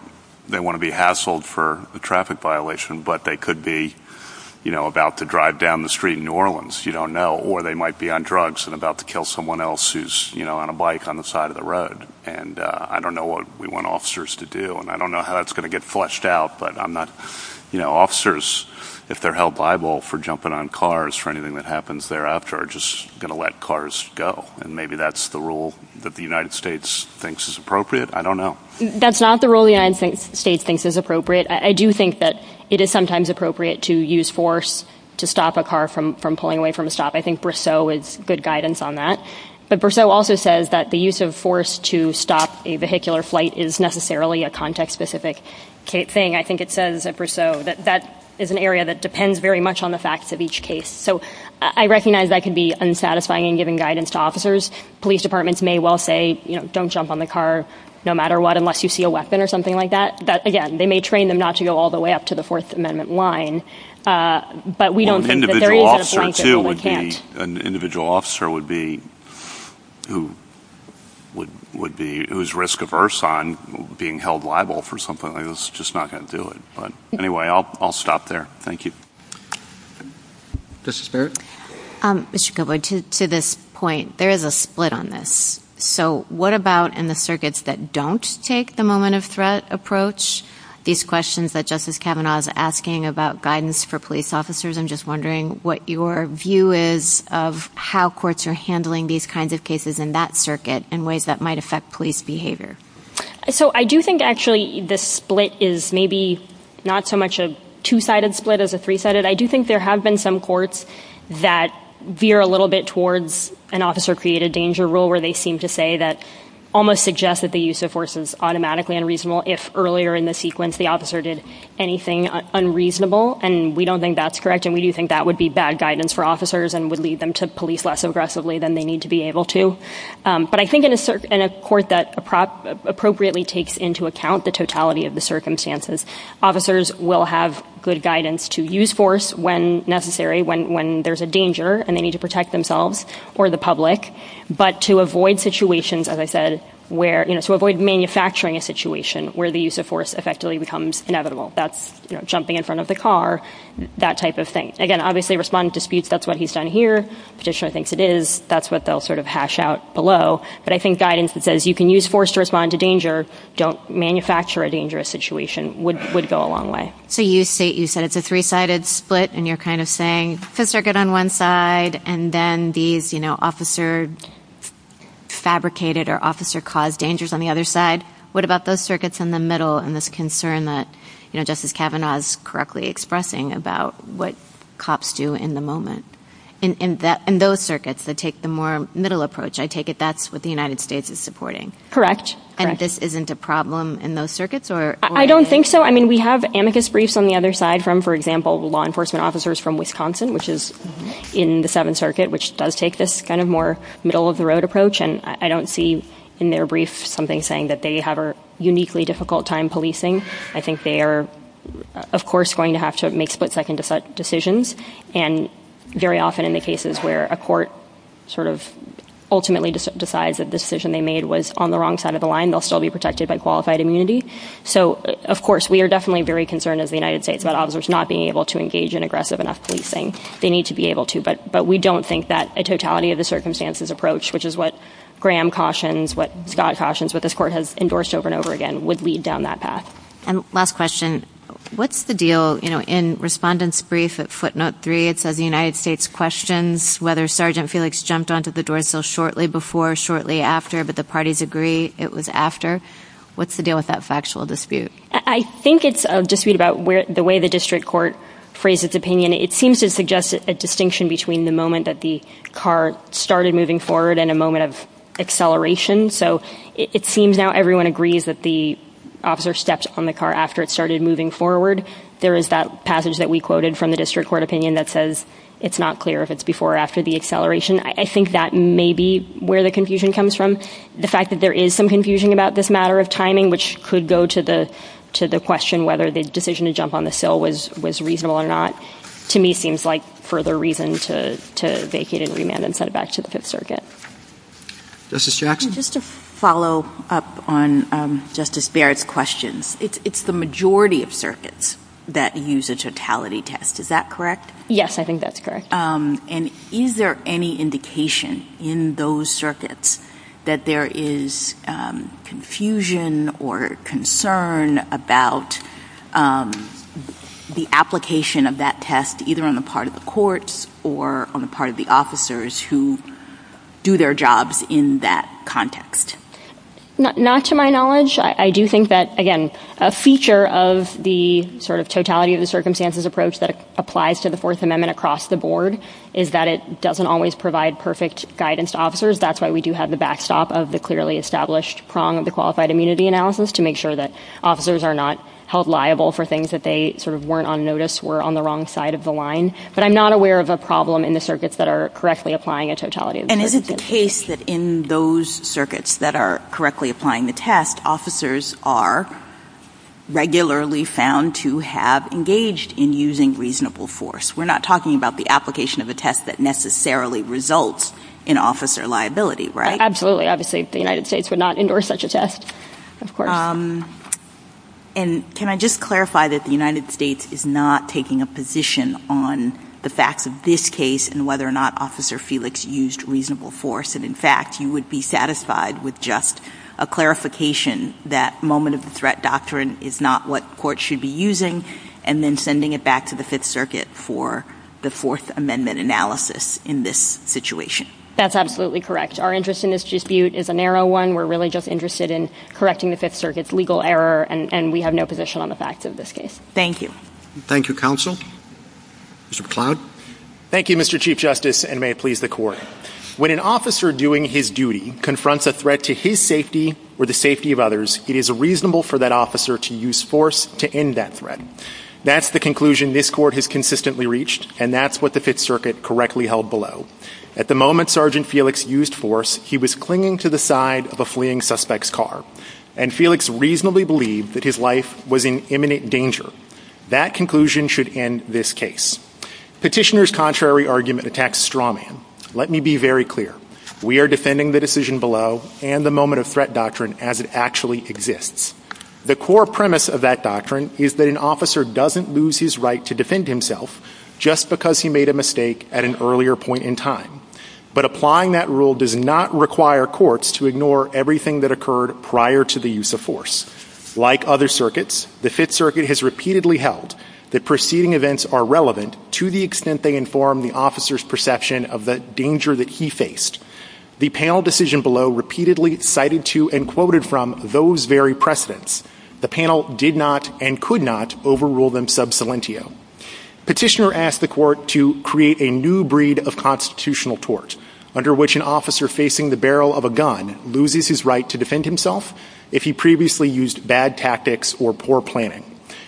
they want to be hassled for a traffic violation, but they could be about to drive down the street in New Orleans, you don't know, or they might be on drugs and about to kill someone else who's on a bike on the side of the road. And I don't know what we want officers to do, and I don't know how that's going to get fleshed out, but officers, if they're held liable for jumping on cars for anything that happens thereafter, are just going to let cars go. And maybe that's the rule that the United States thinks is appropriate. I don't know. That's not the rule the United States thinks is appropriate. I do think that it is sometimes appropriate to use force to stop a car from pulling away from a stop. I think Briseau is good guidance on that. But Briseau also says that the use of force to stop a vehicular flight is necessarily a context-specific thing. I think it says at Briseau that that is an area that depends very much on the facts of each case. So I recognize I could be unsatisfying in giving guidance to officers. Police departments may well say, you know, don't jump on the car no matter what, unless you see a weapon or something like that. But, again, they may train them not to go all the way up to the Fourth Amendment line. But we don't think that there is a reason they can't. An individual officer would be who is risk-averse on being held liable for something like this. Just not going to do it. But, anyway, I'll stop there. Thank you. Justice Barrett? Mr. Kubik, to this point, there is a split on this. So what about in the circuits that don't take the moment of threat approach? These questions that Justice Kavanaugh is asking about guidance for police officers, I'm just wondering what your view is of how courts are handling these kinds of cases in that circuit in ways that might affect police behavior. So I do think, actually, this split is maybe not so much a two-sided split as a three-sided. I do think there have been some courts that veer a little bit towards an officer-created danger rule where they seem to say that almost suggests that the use of force is automatically unreasonable if earlier in the sequence the officer did anything unreasonable. And we don't think that's correct, and we do think that would be bad guidance for officers and would lead them to police less aggressively than they need to be able to. But I think in a court that appropriately takes into account the totality of the circumstances, officers will have good guidance to use force when necessary, when there's a danger and they need to protect themselves or the public, but to avoid situations, as I said, to avoid manufacturing a situation where the use of force effectively becomes inevitable. That's jumping in front of the car, that type of thing. Again, obviously respond to disputes. That's what he's done here. The petitioner thinks it is. That's what they'll sort of hash out below. But I think guidance that says you can use force to respond to danger. Don't manufacture a dangerous situation would go a long way. So you said it's a three-sided split, and you're kind of saying the circuit on one side and then these officer-fabricated or officer-caused dangers on the other side. What about those circuits in the middle and this concern that Justice Kavanaugh is correctly expressing about what cops do in the moment in those circuits that take the more middle approach? I take it that's what the United States is supporting. And this isn't a problem in those circuits? I don't think so. I mean, we have amicus briefs on the other side from, for example, law enforcement officers from Wisconsin, which is in the Seventh Circuit, which does take this kind of more middle-of-the-road approach. And I don't see in their briefs something saying that they have a uniquely difficult time policing. I think they are, of course, going to have to make split-second decisions. And very often in the cases where a court sort of ultimately decides that the decision they made was on the wrong side of the line, they'll still be protected by qualified immunity. So, of course, we are definitely very concerned as the United States about officers not being able to engage in aggressive enough policing. They need to be able to, but we don't think that a totality-of-the-circumstances approach, which is what Graham cautions, what Scott cautions, what this court has endorsed over and over again, would lead down that path. And last question, what's the deal, you know, in Respondent's Brief at footnote 3, it says the United States questions whether Sergeant Felix jumped onto the door sill shortly before, shortly after, but the parties agree it was after. What's the deal with that factual dispute? I think it's a dispute about the way the district court phrased its opinion. I mean, it seems to suggest a distinction between the moment that the car started moving forward and a moment of acceleration. So it seems now everyone agrees that the officer stepped on the car after it started moving forward. There is that passage that we quoted from the district court opinion that says it's not clear if it's before or after the acceleration. I think that may be where the confusion comes from. The fact that there is some confusion about this matter of timing, which could go to the question whether the decision to jump on the sill was reasonable or not, to me seems like further reason to vacate and remand and send it back to the Fifth Circuit. Justice Jackson? Just to follow up on Justice Barrett's questions, it's the majority of circuits that use a totality test. Is that correct? Yes, I think that's correct. And is there any indication in those circuits that there is confusion or concern about the application of that test either on the part of the courts or on the part of the officers who do their jobs in that context? Not to my knowledge. I do think that, again, a feature of the sort of totality of the circumstances approach that applies to the Fourth Amendment across the board is that it doesn't always provide perfect guidance to officers. That's why we do have the backstop of the clearly established prong of the qualified immunity analysis to make sure that officers are not held liable for things that they sort of weren't on notice, were on the wrong side of the line. But I'm not aware of a problem in the circuits that are correctly applying a totality of the test. And is it the case that in those circuits that are correctly applying the test, that officers are regularly found to have engaged in using reasonable force? We're not talking about the application of a test that necessarily results in officer liability, right? Absolutely. Obviously, the United States would not endorse such a test, of course. And can I just clarify that the United States is not taking a position on the facts of this case and whether or not Officer Felix used reasonable force, and, in fact, you would be satisfied with just a clarification that moment of threat doctrine is not what courts should be using and then sending it back to the Fifth Circuit for the Fourth Amendment analysis in this situation? That's absolutely correct. Our interest in this dispute is a narrow one. We're really just interested in correcting the Fifth Circuit's legal error, and we have no position on the facts of this case. Thank you. Thank you, Counsel. Mr. McCloud. Thank you, Mr. Chief Justice, and may it please the Court. When an officer doing his duty confronts a threat to his safety or the safety of others, it is reasonable for that officer to use force to end that threat. That's the conclusion this Court has consistently reached, and that's what the Fifth Circuit correctly held below. At the moment Sergeant Felix used force, he was clinging to the side of a fleeing suspect's car, and Felix reasonably believed that his life was in imminent danger. That conclusion should end this case. Petitioner's contrary argument attacks Strawman. Let me be very clear. We are defending the decision below and the moment of threat doctrine as it actually exists. The core premise of that doctrine is that an officer doesn't lose his right to defend himself just because he made a mistake at an earlier point in time. But applying that rule does not require courts to ignore everything that occurred prior to the use of force. Like other circuits, the Fifth Circuit has repeatedly held that preceding events are relevant to the extent they inform the officer's perception of the danger that he faced. The panel decision below repeatedly cited to and quoted from those very precedents. The panel did not and could not overrule them sub salientio. Petitioner asked the Court to create a new breed of constitutional tort under which an officer facing the barrel of a gun loses his right to defend himself if he previously used bad tactics or poor planning.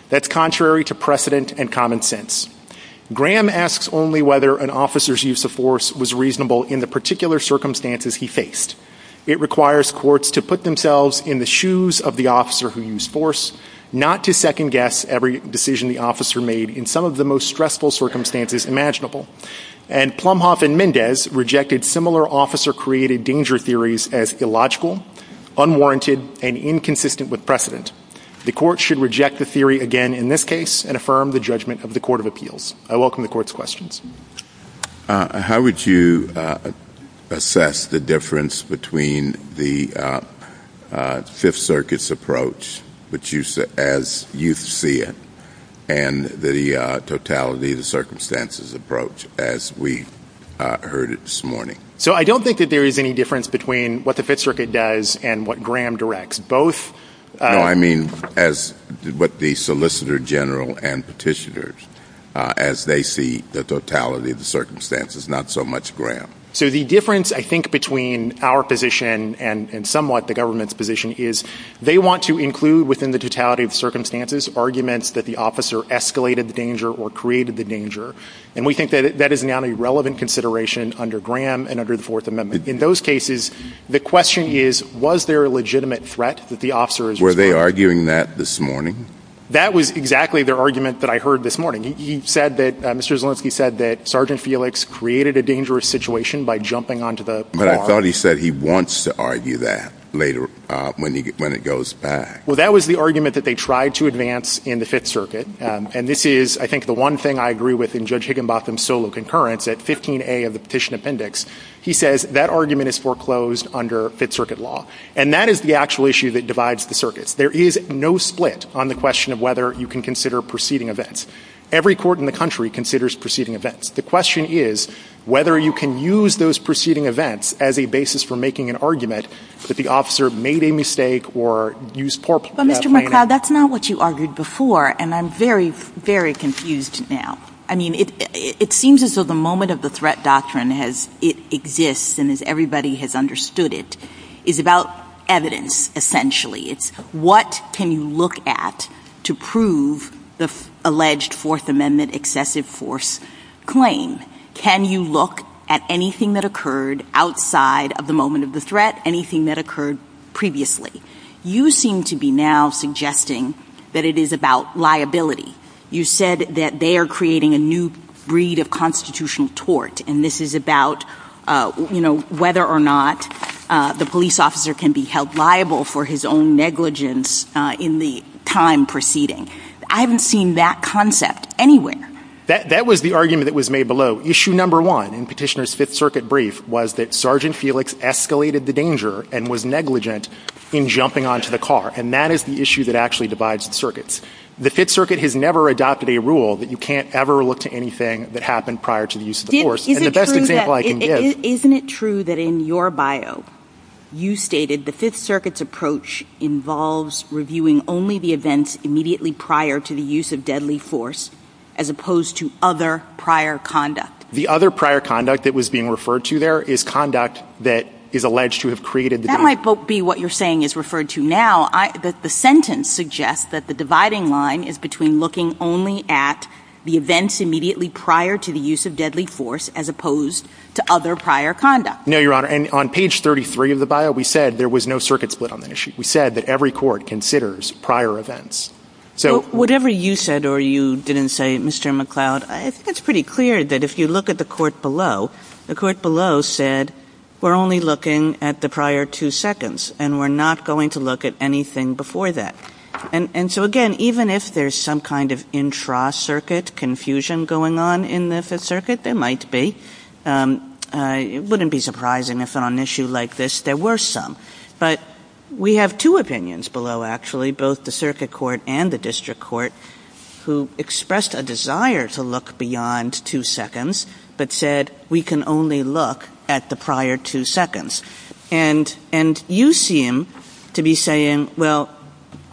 That's contrary to precedent and common sense. Graham asks only whether an officer's use of force was reasonable in the particular circumstances he faced. It requires courts to put themselves in the shoes of the officer who used force, not to second guess every decision the officer made in some of the most stressful circumstances imaginable. And Plumhoff and Mendez rejected similar officer-created danger theories as illogical, unwarranted and inconsistent with precedent. The Court should reject the theory again in this case and affirm the judgment of the Court of Appeals. I welcome the Court's questions. How would you assess the difference between the Fifth Circuit's approach as you see it and the totality of the circumstances approach as we heard it this morning? So I don't think that there is any difference between what the Fifth Circuit does and what Graham directs. No, I mean what the Solicitor General and Petitioners as they see the totality of the circumstances, not so much Graham. So the difference, I think, between our position and somewhat the government's position is they want to include within the totality of the circumstances arguments that the officer escalated the danger or created the danger. And we think that is now a relevant consideration under Graham and under the Fourth Amendment. In those cases, the question is, was there a legitimate threat? Were they arguing that this morning? That was exactly the argument that I heard this morning. He said that, Mr. Zolensky said that Sergeant Felix created a dangerous situation by jumping onto the car. But I thought he said he wants to argue that later when it goes back. Well, that was the argument that they tried to advance in the Fifth Circuit. And this is, I think, the one thing I agree with in Judge Higginbotham's solo concurrence at 15A of the petition appendix. He says that argument is foreclosed under Fifth Circuit law. And that is the actual issue that divides the circuits. There is no split on the question of whether you can consider preceding events. Every court in the country considers preceding events. The question is whether you can use those preceding events as a basis for making an argument that the officer made a mistake or used poor planning. But, Mr. McLeod, that's not what you argued before. And I'm very, very confused now. I mean, it seems as though the moment of the threat doctrine exists and as everybody has understood it, is about evidence, essentially. What can you look at to prove the alleged Fourth Amendment excessive force claim? Can you look at anything that occurred outside of the moment of the threat, anything that occurred previously? You seem to be now suggesting that it is about liability. You said that they are creating a new breed of constitutional tort, and this is about whether or not the police officer can be held liable for his own negligence in the time preceding. I haven't seen that concept anywhere. That was the argument that was made below. Issue number one in Petitioner's Fifth Circuit brief was that Sergeant Felix escalated the danger and was negligent in jumping onto the car. And that is the issue that actually divides the circuits. The Fifth Circuit has never adopted a rule that you can't ever look to anything that happened prior to the use of the force. And the best example I can give... Isn't it true that in your bio, you stated the Fifth Circuit's approach involves reviewing only the events immediately prior to the use of deadly force as opposed to other prior conduct? The other prior conduct that was being referred to there is conduct that is alleged to have created the danger. That might be what you're saying is referred to now. But the sentence suggests that the dividing line is between looking only at the events immediately prior to the use of deadly force as opposed to other prior conduct. No, Your Honor, and on page 33 of the bio, we said there was no circuit split on the issue. We said that every court considers prior events. So whatever you said or you didn't say, Mr. McCloud, it's pretty clear that if you look at the court below, the court below said we're only looking at the prior two seconds and we're not going to look at anything before that. And so, again, even if there's some kind of intra-circuit confusion going on in the Fifth Circuit, there might be. It wouldn't be surprising if on an issue like this there were some. But we have two opinions below, actually, both the circuit court and the district court, who expressed a desire to look beyond two seconds but said we can only look at the prior two seconds. And you seem to be saying, well,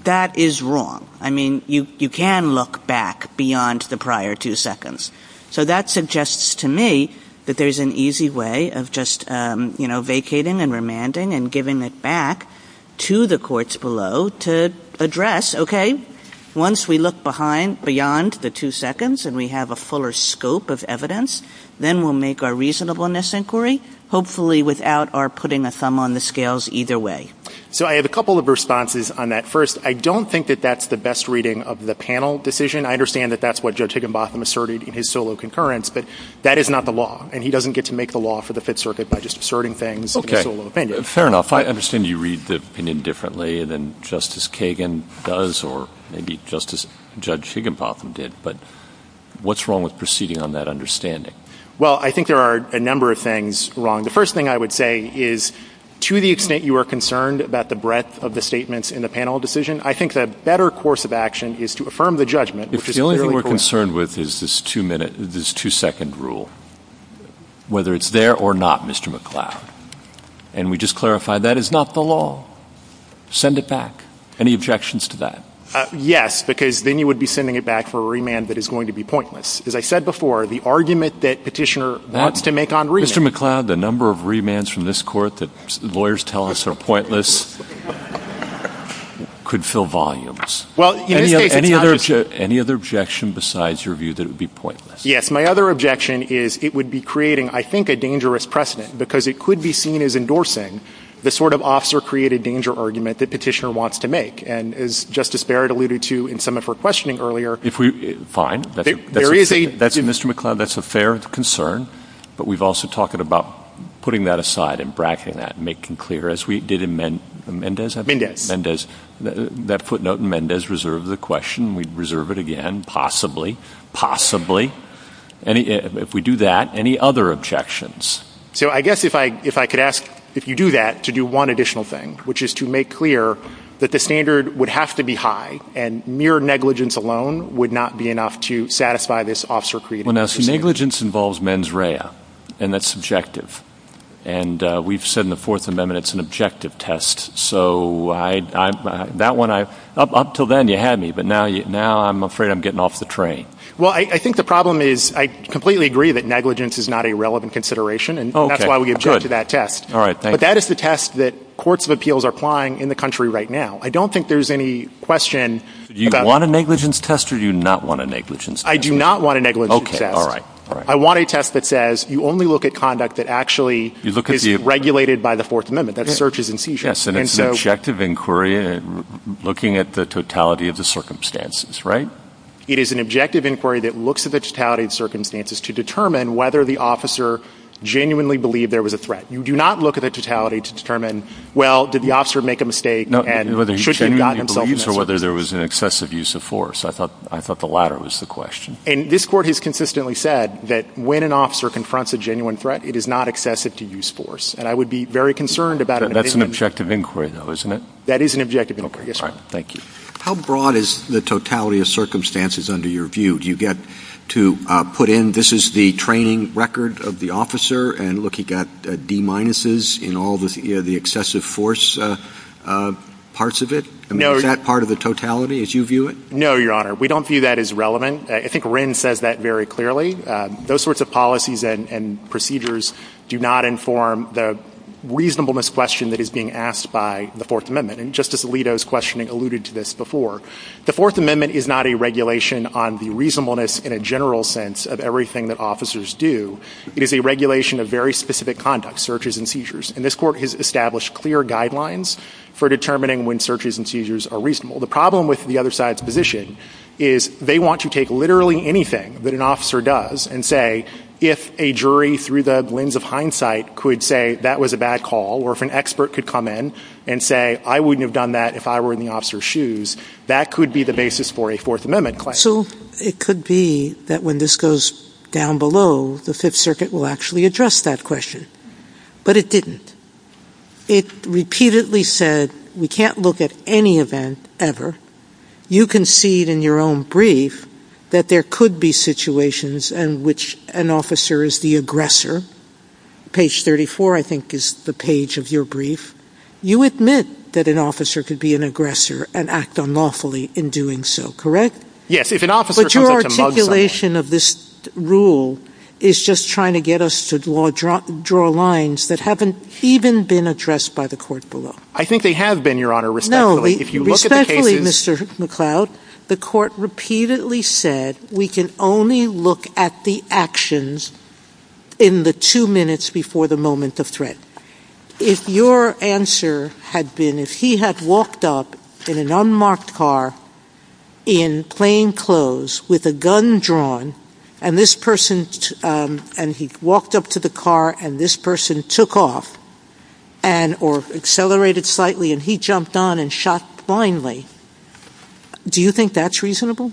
that is wrong. I mean, you can look back beyond the prior two seconds. So that suggests to me that there's an easy way of just, you know, vacating and remanding and giving it back to the courts below to address, okay, once we look behind beyond the two seconds and we have a fuller scope of evidence, then we'll make our reasonableness inquiry, hopefully without our putting a thumb on the scales either way. So I have a couple of responses on that. First, I don't think that that's the best reading of the panel decision. I understand that that's what Judge Higginbotham asserted in his solo concurrence, but that is not the law, and he doesn't get to make the law for the Fifth Circuit by just asserting things in his solo opinion. Okay. Fair enough. I understand you read the opinion differently than Justice Kagan does or maybe just as Judge Higginbotham did, but what's wrong with proceeding on that understanding? Well, I think there are a number of things wrong. The first thing I would say is to the extent you are concerned about the breadth of the statements in the panel decision, I think that a better course of action is to affirm the judgment, which is clearly correct. If the only thing we're concerned with is this two-second rule, whether it's there or not, Mr. McCloud, and we just clarify that is not the law, send it back. Any objections to that? Yes, because then you would be sending it back for a remand that is going to be pointless. As I said before, the argument that Petitioner wants to make on remand. Mr. McCloud, the number of remands from this Court that lawyers tell us are pointless could fill volumes. Any other objection besides your view that it would be pointless? Yes. My other objection is it would be creating, I think, a dangerous precedent because it could be seen as endorsing the sort of officer-created danger argument that Petitioner wants to make. And as Justice Barrett alluded to in some of her questioning earlier, Fine. Mr. McCloud, that's a fair concern. But we've also talked about putting that aside and bracketing that and making clear, as we did in Mendez. Mendez. That footnote in Mendez reserved the question. We'd reserve it again, possibly. Possibly. If we do that, any other objections? So I guess if I could ask, if you do that, to do one additional thing, which is to make clear that the standard would have to be high and mere negligence alone would not be enough to satisfy this officer-created system. Negligence involves mens rea, and that's subjective. And we've said in the Fourth Amendment it's an objective test. So up until then you had me, but now I'm afraid I'm getting off the train. Well, I think the problem is I completely agree that negligence is not a relevant consideration, and that's why we object to that test. But that is the test that courts of appeals are applying in the country right now. I don't think there's any question about- Do you want a negligence test or do you not want a negligence test? I do not want a negligence test. Okay, all right. I want a test that says you only look at conduct that actually is regulated by the Fourth Amendment, that searches and seizures. Yes, and it's an objective inquiry looking at the totality of the circumstances, right? It is an objective inquiry that looks at the totality of circumstances to determine whether the officer genuinely believed there was a threat. You do not look at the totality to determine, well, did the officer make a mistake? No, whether he genuinely believes or whether there was an excessive use of force. I thought the latter was the question. And this court has consistently said that when an officer confronts a genuine threat, it is not excessive to use force, and I would be very concerned about- That's an objective inquiry, though, isn't it? That is an objective inquiry, yes, sir. All right, thank you. How broad is the totality of circumstances under your view? Do you get to put in this is the training record of the officer and looking at D minuses in all the excessive force parts of it? Is that part of the totality as you view it? No, Your Honor. We don't view that as relevant. I think Wren says that very clearly. Those sorts of policies and procedures do not inform the reasonableness question that is being asked by the Fourth Amendment. And Justice Alito's questioning alluded to this before. The Fourth Amendment is not a regulation on the reasonableness in a general sense of everything that officers do. It is a regulation of very specific conduct, searches and seizures. And this court has established clear guidelines for determining when searches and seizures are reasonable. The problem with the other side's position is they want you to take literally anything that an officer does and say, if a jury through the lens of hindsight could say that was a bad call or if an expert could come in and say, I wouldn't have done that if I were in the officer's shoes, that could be the basis for a Fourth Amendment claim. So it could be that when this goes down below, the Fifth Circuit will actually address that question, but it didn't. It repeatedly said we can't look at any event ever. You concede in your own brief that there could be situations in which an officer is the aggressor. Page 34, I think, is the page of your brief. You admit that an officer could be an aggressor and act unlawfully in doing so, correct? Yes. But your articulation of this rule is just trying to get us to draw lines that haven't even been addressed by the court below. I think they have been, Your Honor, respectfully. No, respectfully, Mr. McCloud, the court repeatedly said we can only look at the actions in the two minutes before the moment of threat. If your answer had been, if he had walked up in an unmarked car in plain clothes with a gun drawn, and he walked up to the car and this person took off or accelerated slightly and he jumped on and shot blindly, do you think that's reasonable?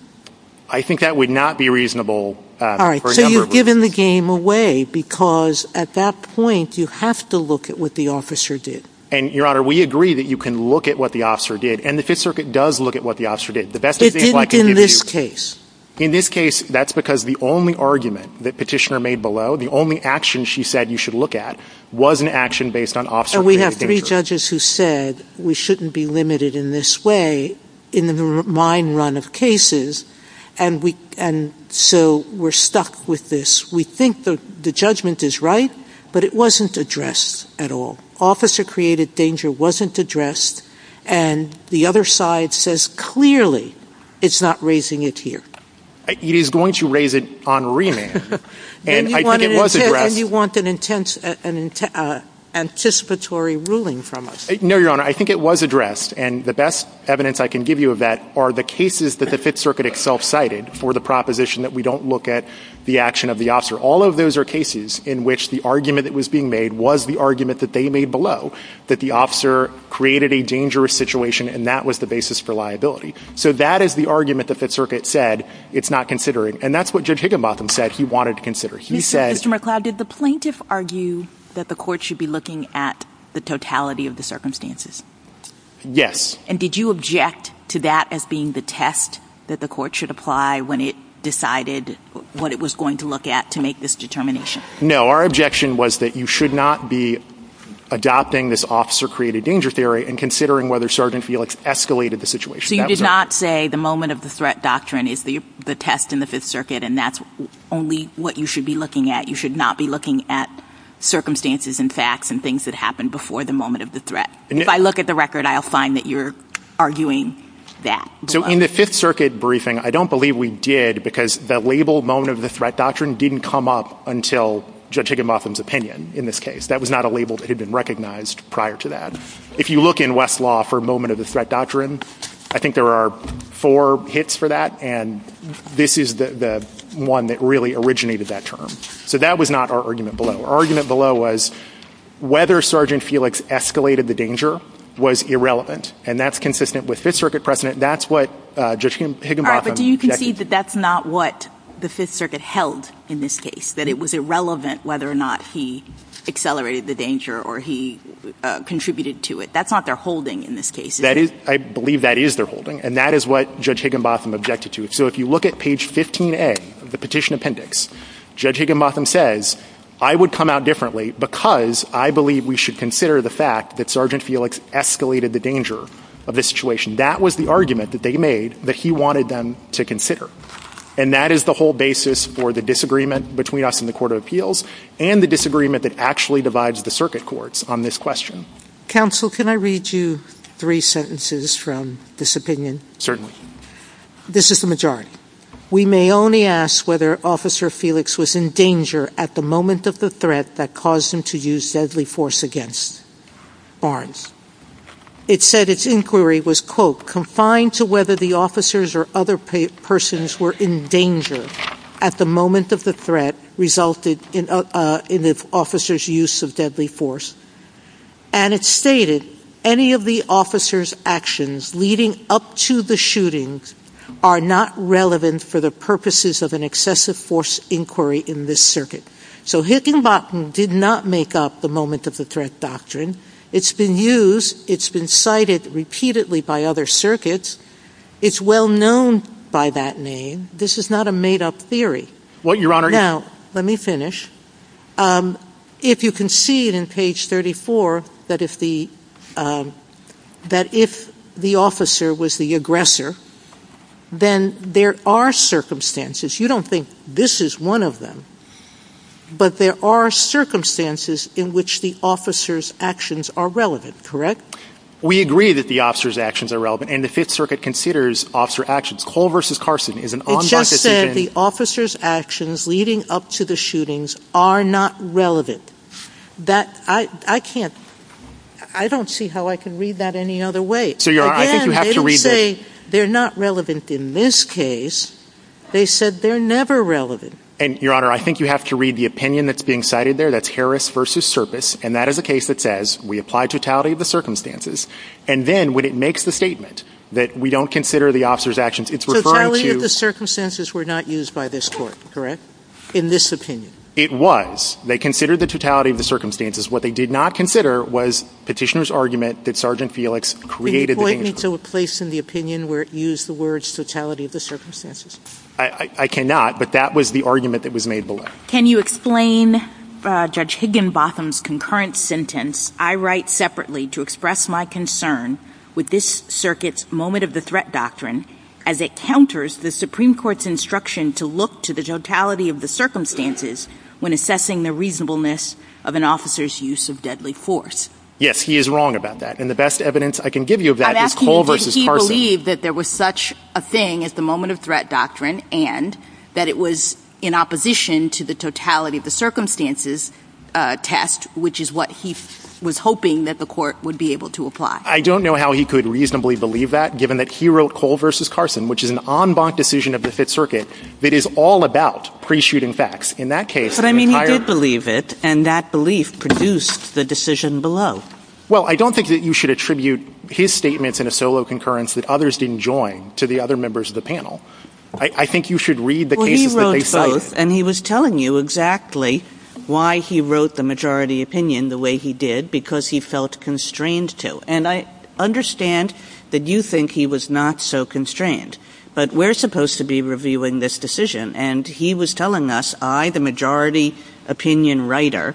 I think that would not be reasonable for a number of reasons. We've given the game away because at that point you have to look at what the officer did. And, Your Honor, we agree that you can look at what the officer did, and the Fifth Circuit does look at what the officer did. It didn't in this case. In this case, that's because the only argument that Petitioner made below, the only action she said you should look at, was an action based on officer's behavior. And we have three judges who said we shouldn't be limited in this way in the mine run of cases, and so we're stuck with this. We think the judgment is right, but it wasn't addressed at all. Officer-created danger wasn't addressed, and the other side says clearly it's not raising it here. It is going to raise it on remand. And you want an anticipatory ruling from us. No, Your Honor, I think it was addressed, and the best evidence I can give you of that are the cases that the Fifth Circuit itself cited for the proposition that we don't look at the action of the officer. All of those are cases in which the argument that was being made was the argument that they made below that the officer created a dangerous situation, and that was the basis for liability. So that is the argument that the Fifth Circuit said it's not considering, and that's what Judge Higginbotham said he wanted to consider. Mr. McLeod, did the plaintiff argue that the court should be looking at the totality of the circumstances? Yes. And did you object to that as being the test that the court should apply when it decided what it was going to look at to make this determination? No, our objection was that you should not be adopting this officer-created danger theory and considering whether Sergeant Felix escalated the situation. So you did not say the moment of the threat doctrine is the test in the Fifth Circuit, and that's only what you should be looking at. You should not be looking at circumstances and facts and things that happened before the moment of the threat. If I look at the record, I'll find that you're arguing that. So in the Fifth Circuit briefing, I don't believe we did because the labeled moment of the threat doctrine didn't come up until Judge Higginbotham's opinion in this case. That was not a label that had been recognized prior to that. If you look in Westlaw for moment of the threat doctrine, I think there are four hits for that, and this is the one that really originated that term. So that was not our argument below. Our argument below was whether Sergeant Felix escalated the danger was irrelevant, and that's consistent with Fifth Circuit precedent. That's what Judge Higginbotham— All right, but do you concede that that's not what the Fifth Circuit held in this case, that it was irrelevant whether or not he accelerated the danger or he contributed to it? That's not their holding in this case, is it? I believe that is their holding, and that is what Judge Higginbotham objected to. So if you look at page 15A of the petition appendix, Judge Higginbotham says, I would come out differently because I believe we should consider the fact that Sergeant Felix escalated the danger of this situation. That was the argument that they made that he wanted them to consider, and that is the whole basis for the disagreement between us and the Court of Appeals and the disagreement that actually divides the circuit courts on this question. Counsel, can I read you three sentences from this opinion? Certainly. This is the majority. We may only ask whether Officer Felix was in danger at the moment of the threat that caused him to use deadly force against Orrins. It said its inquiry was, quote, confined to whether the officers or other persons were in danger at the moment of the threat resulted in the officer's use of deadly force. And it stated, any of the officers' actions leading up to the shootings are not relevant for the purposes of an excessive force inquiry in this circuit. So Higginbotham did not make up the moment of the threat doctrine. It's been used. It's been cited repeatedly by other circuits. It's well known by that name. This is not a made-up theory. Well, Your Honor, Now, let me finish. If you can see it in page 34, that if the officer was the aggressor, then there are circumstances. You don't think this is one of them. But there are circumstances in which the officer's actions are relevant, correct? We agree that the officer's actions are relevant, and the Fifth Circuit considers officer actions. Cole v. Carson is an ombud decision. They said the officer's actions leading up to the shootings are not relevant. That, I can't, I don't see how I can read that any other way. Again, they say they're not relevant in this case. They said they're never relevant. And, Your Honor, I think you have to read the opinion that's being cited there. That's Harris v. Serpis, and that is a case that says we apply totality of the circumstances, and then when it makes the statement that we don't consider the officer's actions, it's referring to... Totality of the circumstances were not used by this court, correct? In this opinion. It was. They considered the totality of the circumstances. What they did not consider was Petitioner's argument that Sergeant Felix created... The point needs to be placed in the opinion where it used the words totality of the circumstances. I cannot, but that was the argument that was made below. Can you explain Judge Higginbotham's concurrent sentence, I write separately to express my concern with this circuit's moment of the threat doctrine as it counters the Supreme Court's instruction to look to the totality of the circumstances when assessing the reasonableness of an officer's use of deadly force. Yes, he is wrong about that, and the best evidence I can give you of that is Cole v. Carson. I'm asking because he believed that there was such a thing as the moment of threat doctrine and that it was in opposition to the totality of the circumstances test, which is what he was hoping that the court would be able to apply. I don't know how he could reasonably believe that, given that he wrote Cole v. Carson, which is an en banc decision of the Fifth Circuit that is all about pre-shooting facts. In that case... But, I mean, he did believe it, and that belief produced the decision below. Well, I don't think that you should attribute his statements in a solo concurrence that others didn't join to the other members of the panel. I think you should read the cases that they cited. And he was telling you exactly why he wrote the majority opinion the way he did, because he felt constrained to. And I understand that you think he was not so constrained, but we're supposed to be reviewing this decision, and he was telling us, I, the majority opinion writer,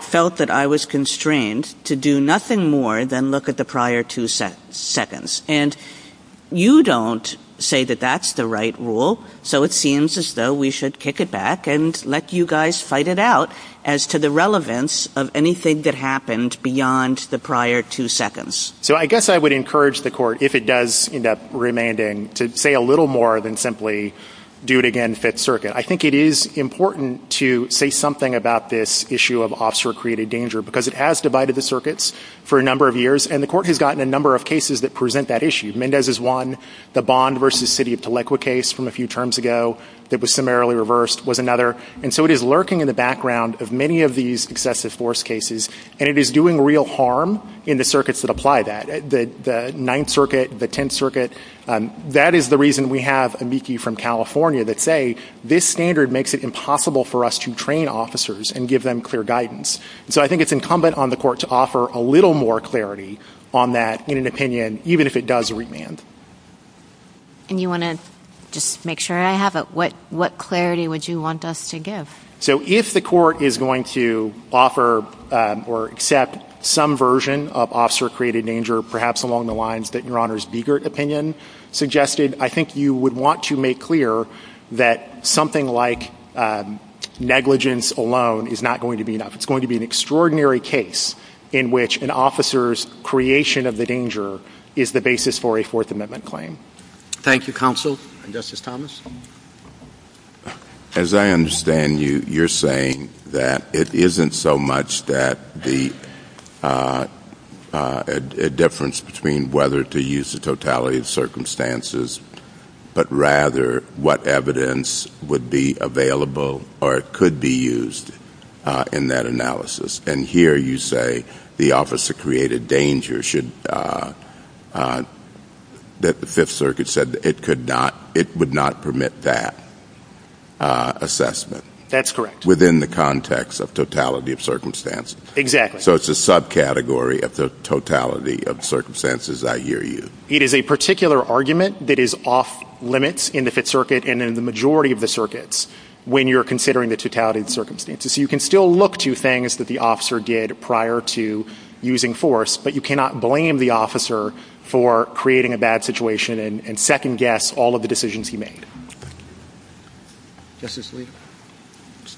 felt that I was constrained to do nothing more than look at the prior two sentences. And you don't say that that's the right rule, so it seems as though we should kick it back and let you guys fight it out as to the relevance of anything that happened beyond the prior two seconds. So I guess I would encourage the court, if it does end up remaining, to say a little more than simply do it again, Fifth Circuit. I think it is important to say something about this issue of officer-created danger, because it has divided the circuits for a number of years, and the court has gotten a number of cases that present that issue. Mendez is one. The Bond v. City of Telequa case from a few terms ago that was summarily reversed was another. And so it is lurking in the background of many of these excessive force cases, and it is doing real harm in the circuits that apply that, the Ninth Circuit, the Tenth Circuit. That is the reason we have amici from California that say, this standard makes it impossible for us to train officers and give them clear guidance. So I think it is incumbent on the court to offer a little more clarity on that in an opinion, even if it does remain. And you want to just make sure I have it. What clarity would you want us to give? So if the court is going to offer or accept some version of officer-created danger, perhaps along the lines that Your Honor's Biegert opinion suggested, I think you would want to make clear that something like negligence alone is not going to be enough. It is going to be an extraordinary case in which an officer's creation of the danger is the basis for a Fourth Amendment claim. Thank you, counsel. Justice Thomas? As I understand you, you're saying that it isn't so much that the difference between whether to use the totality of circumstances, but rather what evidence would be available or could be used in that analysis. And here you say the officer-created danger should, that the Fifth Circuit said it could not, it would not permit that assessment. That's correct. Within the context of totality of circumstances. Exactly. So it's a subcategory of the totality of circumstances, I hear you. It is a particular argument that is off limits in the Fifth Circuit and in the majority of the circuits when you're considering the totality of circumstances. So you can still look to things that the officer did prior to using force, but you cannot blame the officer for creating a bad situation and second-guess all of the decisions he made. Justice Lee?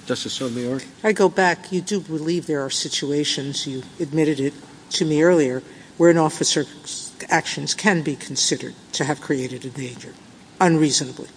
Justice Sotomayor? If I go back, you do believe there are situations, you admitted it to me earlier, where an officer's actions can be considered to have created a danger unreasonably.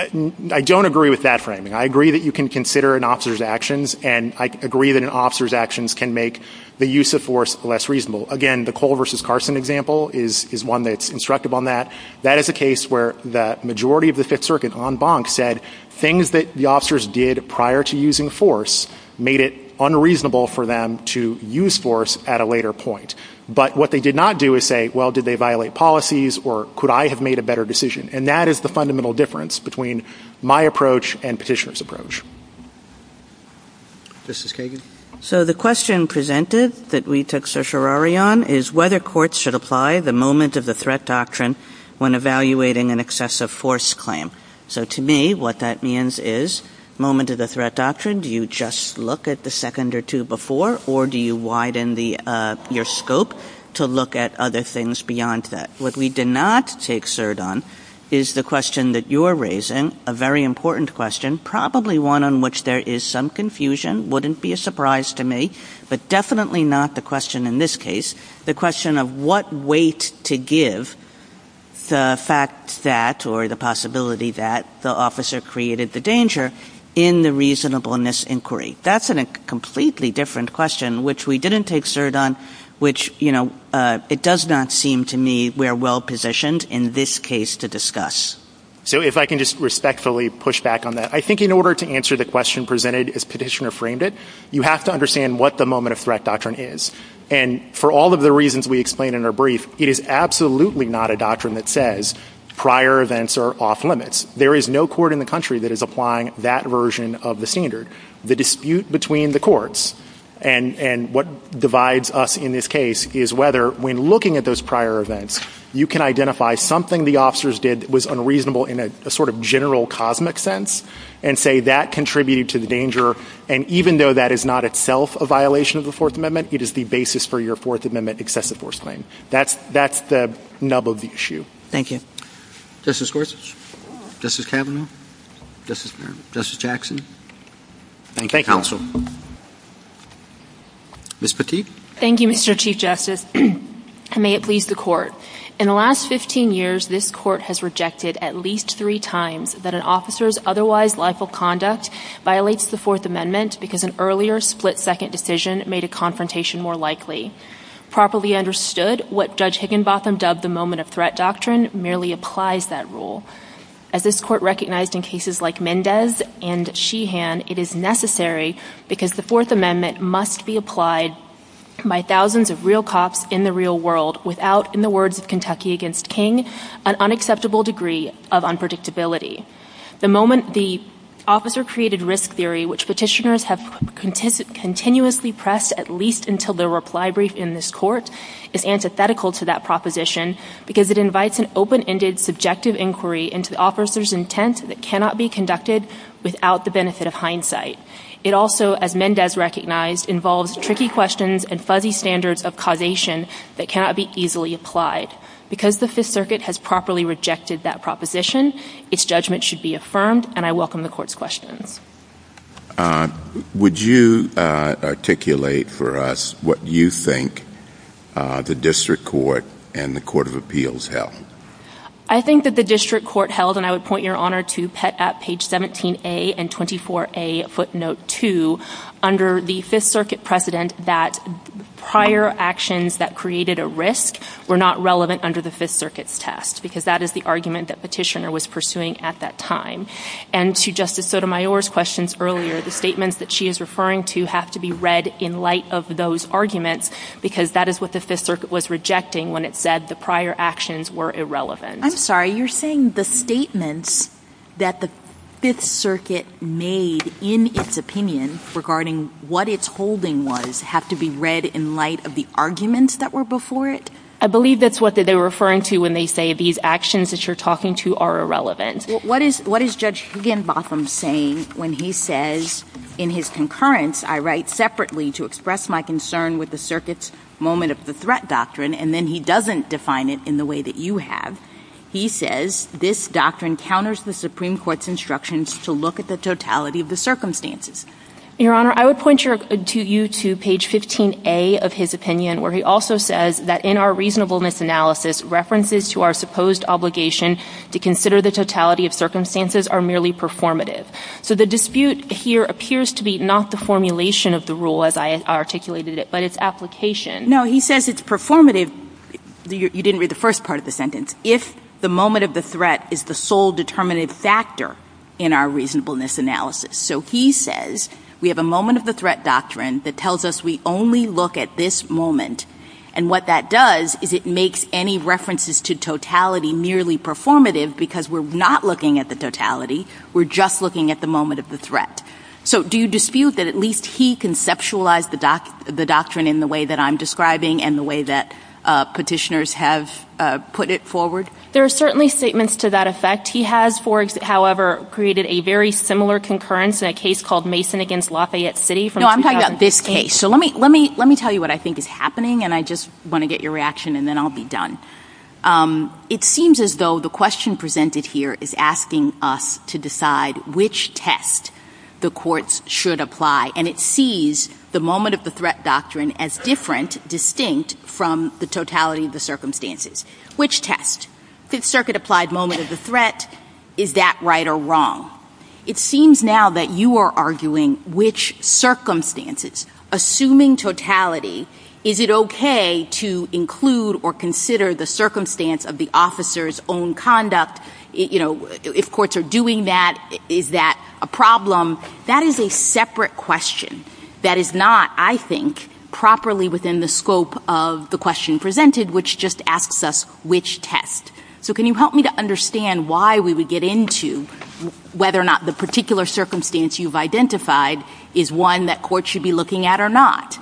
I don't agree with that framing. I agree that you can consider an officer's actions and I agree that an officer's actions can make the use of force less reasonable. Again, the Cole v. Carson example is one that's instructive on that. That is a case where the majority of the Fifth Circuit en banc said things that the officers did prior to using force made it unreasonable for them to use force at a later point. But what they did not do is say, well, did they violate policies or could I have made a better decision? And that is the fundamental difference between my approach and petitioner's approach. Justice Kagan? So the question presented that we took certiorari on is whether courts should apply the moment-of-the-threat doctrine when evaluating an excessive force claim. So to me, what that means is moment-of-the-threat doctrine, do you just look at the second or two before or do you widen your scope to look at other things beyond that? What we did not take cert on is the question that you're raising, a very important question, probably one on which there is some confusion, wouldn't be a surprise to me, but definitely not the question in this case, the question of what weight to give the fact that or the possibility that the officer created the danger in the reasonableness inquiry. That's a completely different question, which we didn't take cert on, which it does not seem to me we're well-positioned in this case to discuss. So if I can just respectfully push back on that, I think in order to answer the question presented as petitioner framed it, you have to understand what the moment-of-threat doctrine is. And for all of the reasons we explained in our brief, it is absolutely not a doctrine that says prior events are off-limits. There is no court in the country that is applying that version of the standard. The dispute between the courts and what divides us in this case is whether when looking at those prior events, you can identify something the officers did was unreasonable in a sort of general cosmic sense and say that contributed to the danger, and even though that is not itself a violation of the Fourth Amendment, it is the basis for your Fourth Amendment excessive force claim. That's the nub of the issue. Thank you. Justice Gorsuch? Justice Kavanaugh? Justice Jackson? Thank you. Ms. Petit? Thank you, Mr. Chief Justice, and may it please the Court. In the last 15 years, this Court has rejected at least three times that an officer's otherwise life of conduct violates the Fourth Amendment because an earlier split-second decision made a confrontation more likely. Properly understood, what Judge Higginbotham dubbed the moment of threat doctrine merely applies that rule. As this Court recognized in cases like Mendez and Sheehan, it is necessary because the Fourth Amendment must be applied by thousands of real cops in the real world without, in the words of Kentucky v. King, an unacceptable degree of unpredictability. The moment the officer created risk theory, which petitioners have continuously pressed at least until their reply briefed in this Court, is antithetical to that proposition because it invites an open-ended, subjective inquiry into the officer's intent that cannot be conducted without the benefit of hindsight. It also, as Mendez recognized, involves tricky questions and fuzzy standards of causation that cannot be easily applied. Because the Fifth Circuit has properly rejected that proposition, its judgment should be affirmed, and I welcome the Court's question. Would you articulate for us what you think the District Court and the Court of Appeals held? I think that the District Court held, and I would point your honor to Pet at page 17A and 24A, footnote 2, under the Fifth Circuit precedent that prior actions that created a risk were not relevant under the Fifth Circuit's test because that is the argument that petitioner was pursuing at that time. And to Justice Sotomayor's questions earlier, the statements that she is referring to have to be read in light of those arguments because that is what the Fifth Circuit was rejecting when it said the prior actions were irrelevant. I'm sorry, you're saying the statements that the Fifth Circuit made in its opinion regarding what its holding was have to be read in light of the arguments that were before it? I believe that's what they were referring to when they say these actions that you're talking to are irrelevant. What is Judge Higginbotham saying when he says in his concurrence, I write separately to express my concern with the Circuit's moment of the threat doctrine and then he doesn't define it in the way that you have. He says this doctrine counters the Supreme Court's instructions to look at the totality of the circumstances. Your Honor, I would point you to page 15A of his opinion where he also says that in our reasonableness analysis, references to our supposed obligation to consider the totality of circumstances are merely performative. So the dispute here appears to be not the formulation of the rule as I articulated it, but its application. No, he says it's performative. You didn't read the first part of the sentence. If the moment of the threat is the sole determinative factor in our reasonableness analysis. So he says we have a moment of the threat doctrine that tells us we only look at this moment and what that does is it makes any references to totality merely performative because we're not looking at the totality. We're just looking at the moment of the threat. So do you dispute that at least he conceptualized the doctrine in the way that I'm describing and the way that petitioners have put it forward? There are certainly statements to that effect. He has, however, created a very similar concurrence in a case called Mason against Lafayette City. No, I'm talking about this case. So let me tell you what I think is happening and I just want to get your reaction and then I'll be done. It seems as though the question presented here is asking us to decide which test the courts should apply and it sees the moment of the threat doctrine as different, distinct from the totality of the circumstances. Which test? Fifth Circuit applied moment as a threat. Is that right or wrong? It seems now that you are arguing which circumstances, assuming totality, is it okay to include or consider the circumstance of the officer's own conduct? You know, if courts are doing that, is that a problem? That is a separate question that is not, I think, properly within the scope of the question presented which just asks us which test. So can you help me to understand why we would get into whether or not the particular circumstance you've identified is one that courts should be looking at or not?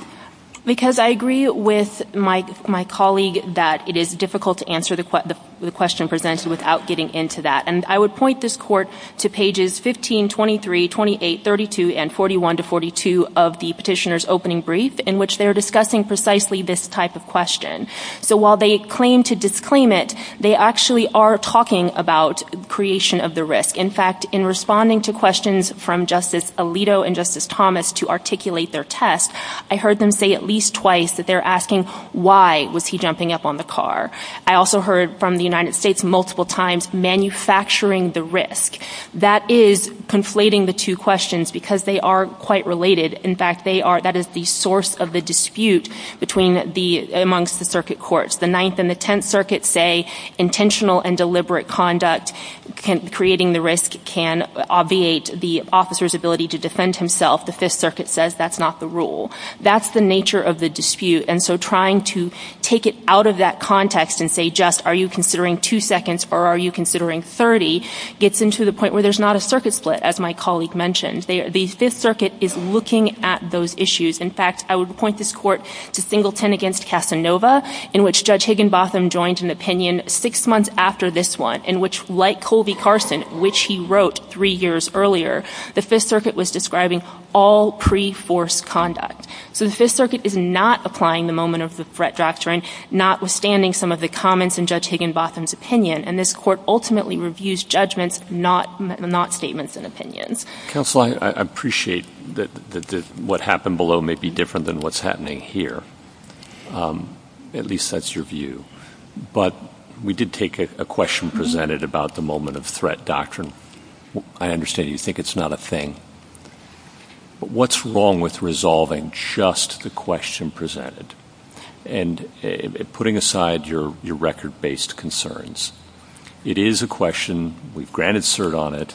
Because I agree with my colleague that it is difficult to answer the question presented without getting into that. And I would point this court to pages 15, 23, 28, 32, and 41 to 42 of the petitioner's opening brief in which they're discussing precisely this type of question. So while they claim to disclaim it, they actually are talking about creation of the risk. In fact, in responding to questions from Justice Alito and Justice Thomas to articulate their test, I heard them say at least twice that they're asking why was he jumping up on the car. I also heard from the United States multiple times manufacturing the risk. That is conflating the two questions because they are quite related. In fact, that is the source of the dispute amongst the circuit courts. The Ninth and the Tenth Circuits say intentional and deliberate conduct creating the risk can obviate the officer's ability to defend himself. The Fifth Circuit says that's not the rule. That's the nature of the dispute. And so trying to take it out of that context and say, just are you considering two seconds or are you considering 30, gets them to the point where there's not a circuit split, as my colleague mentioned. The Fifth Circuit is looking at those issues. In fact, I would point this court to Singleton against Casanova in which Judge Higginbotham joined an opinion six months after this one in which, like Colby Carson, which he wrote three years earlier, the Fifth Circuit was describing all pre-forced conduct. So the Fifth Circuit is not applying the moment of the threat drafting, notwithstanding some of the comments in Judge Higginbotham's opinion. And this court ultimately reviews judgments, not statements and opinions. Counsel, I appreciate that what happened below may be different than what's happening here. At least that's your view. But we did take a question presented about the moment of threat doctrine. I understand you think it's not a thing. But what's wrong with resolving just the question presented and putting aside your record-based concerns? It is a question. We've granted cert on it.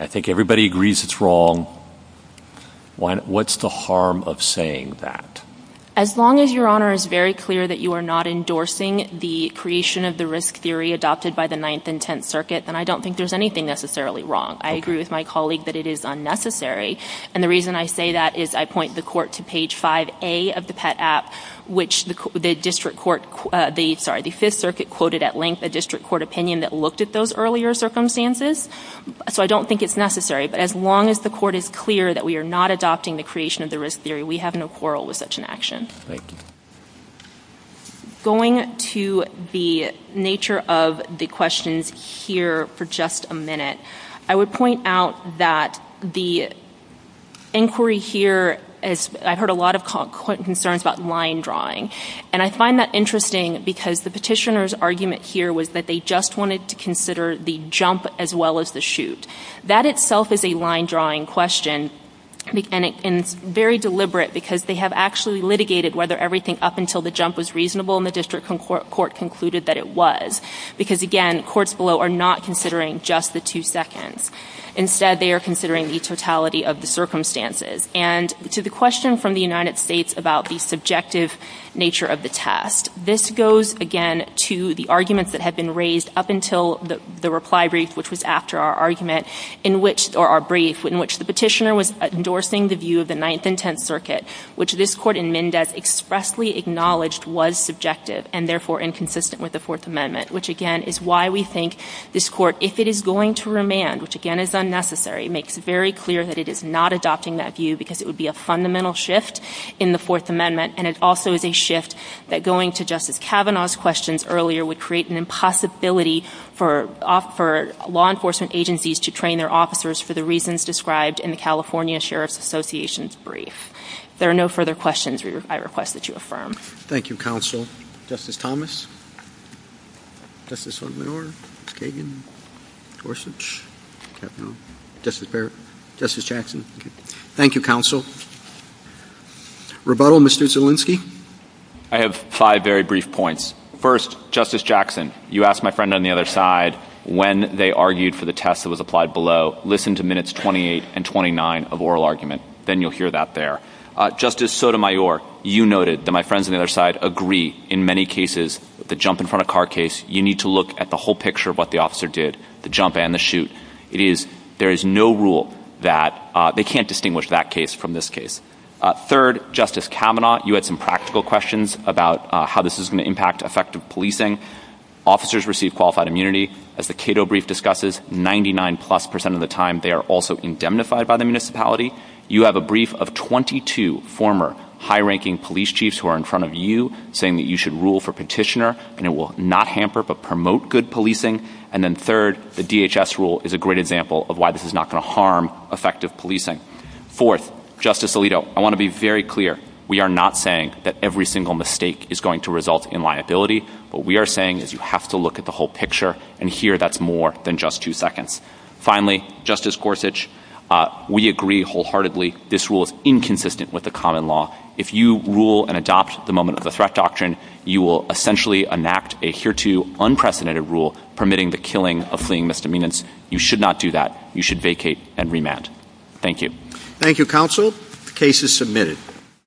I think everybody agrees it's wrong. What's the harm of saying that? As long as, Your Honor, it's very clear that you are not endorsing the creation of the risk theory adopted by the Ninth and Tenth Circuit, then I don't think there's anything necessarily wrong. I agree with my colleague that it is unnecessary. And the reason I say that is I point the court to page 5A of the PET app, which the Fifth Circuit quoted at length a district court opinion that looked at those earlier circumstances. So I don't think it's necessary. But as long as the court is clear that we are not adopting the creation of the risk theory, we have no quarrel with such an action. Going to the nature of the questions here for just a minute, I would point out that the inquiry here... I've heard a lot of concerns about line drawing. And I find that interesting because the petitioner's argument here was that they just wanted to consider the jump as well as the shoot. That itself is a line drawing question and very deliberate because they have actually litigated whether everything up until the jump was reasonable and the district court concluded that it was. Because again, courts below are not considering just the two seconds. Instead, they are considering the totality of the circumstances. And to the question from the United States about the subjective nature of the test, this goes again to the arguments that had been raised up until the reply brief, which was after our argument, or our brief, in which the petitioner was endorsing the view of the Ninth and Tenth Circuit, which this court in Mendez expressly acknowledged was subjective and therefore inconsistent with the Fourth Amendment, which again is why we think this court, if it is going to remand, which again is unnecessary, makes it very clear that it is not adopting that view because it would be a fundamental shift in the Fourth Amendment, and it also is a shift that going to Justice Kavanaugh's questions earlier would create an impossibility for law enforcement agencies to train their officers for the reasons described in the California Sheriff's Association's brief. If there are no further questions, I request that you affirm. Thank you, Counsel. Justice Thomas? Justice Odomenor? Kagan? Gorsuch? Kavanaugh? Justice Barrett? Justice Jackson? Thank you, Counsel. Rebuttal, Mr. Zielinski? I have five very brief points. First, Justice Jackson, you asked my friend on the other side when they argued for the test that was applied below. Listen to minutes 28 and 29 of oral argument. Then you'll hear that there. Justice Sotomayor, you noted that my friends on the other side agree in many cases, the jump in front of car case, you need to look at the whole picture of what the officer did, the jump and the shoot. It is, there is no rule that they can't distinguish that case from this case. Third, Justice Kavanaugh, you had some practical questions about how this is going to impact effective policing. Officers receive qualified immunity. As the Cato brief discusses, 99 plus percent of the time, they are also indemnified by the municipality. You have a brief of 22 former high-ranking police chiefs who are in front of you saying that you should rule for petitioner and it will not hamper but promote good policing. And then third, the DHS rule is a great example of why this is not going to harm effective policing. Fourth, Justice Alito, I want to be very clear. We are not saying that every single mistake is going to result in liability, what we are saying is you have to look at the whole picture and here that's more than just two seconds. Finally, Justice Gorsuch, we agree wholeheartedly this rule is inconsistent with the common law. If you rule and adopt the moment of the threat doctrine, you will essentially enact a hereto unprecedented rule permitting the killing of fleeing misdemeanors. You should not do that. You should vacate and remand. Thank you. Thank you, counsel. The case is submitted.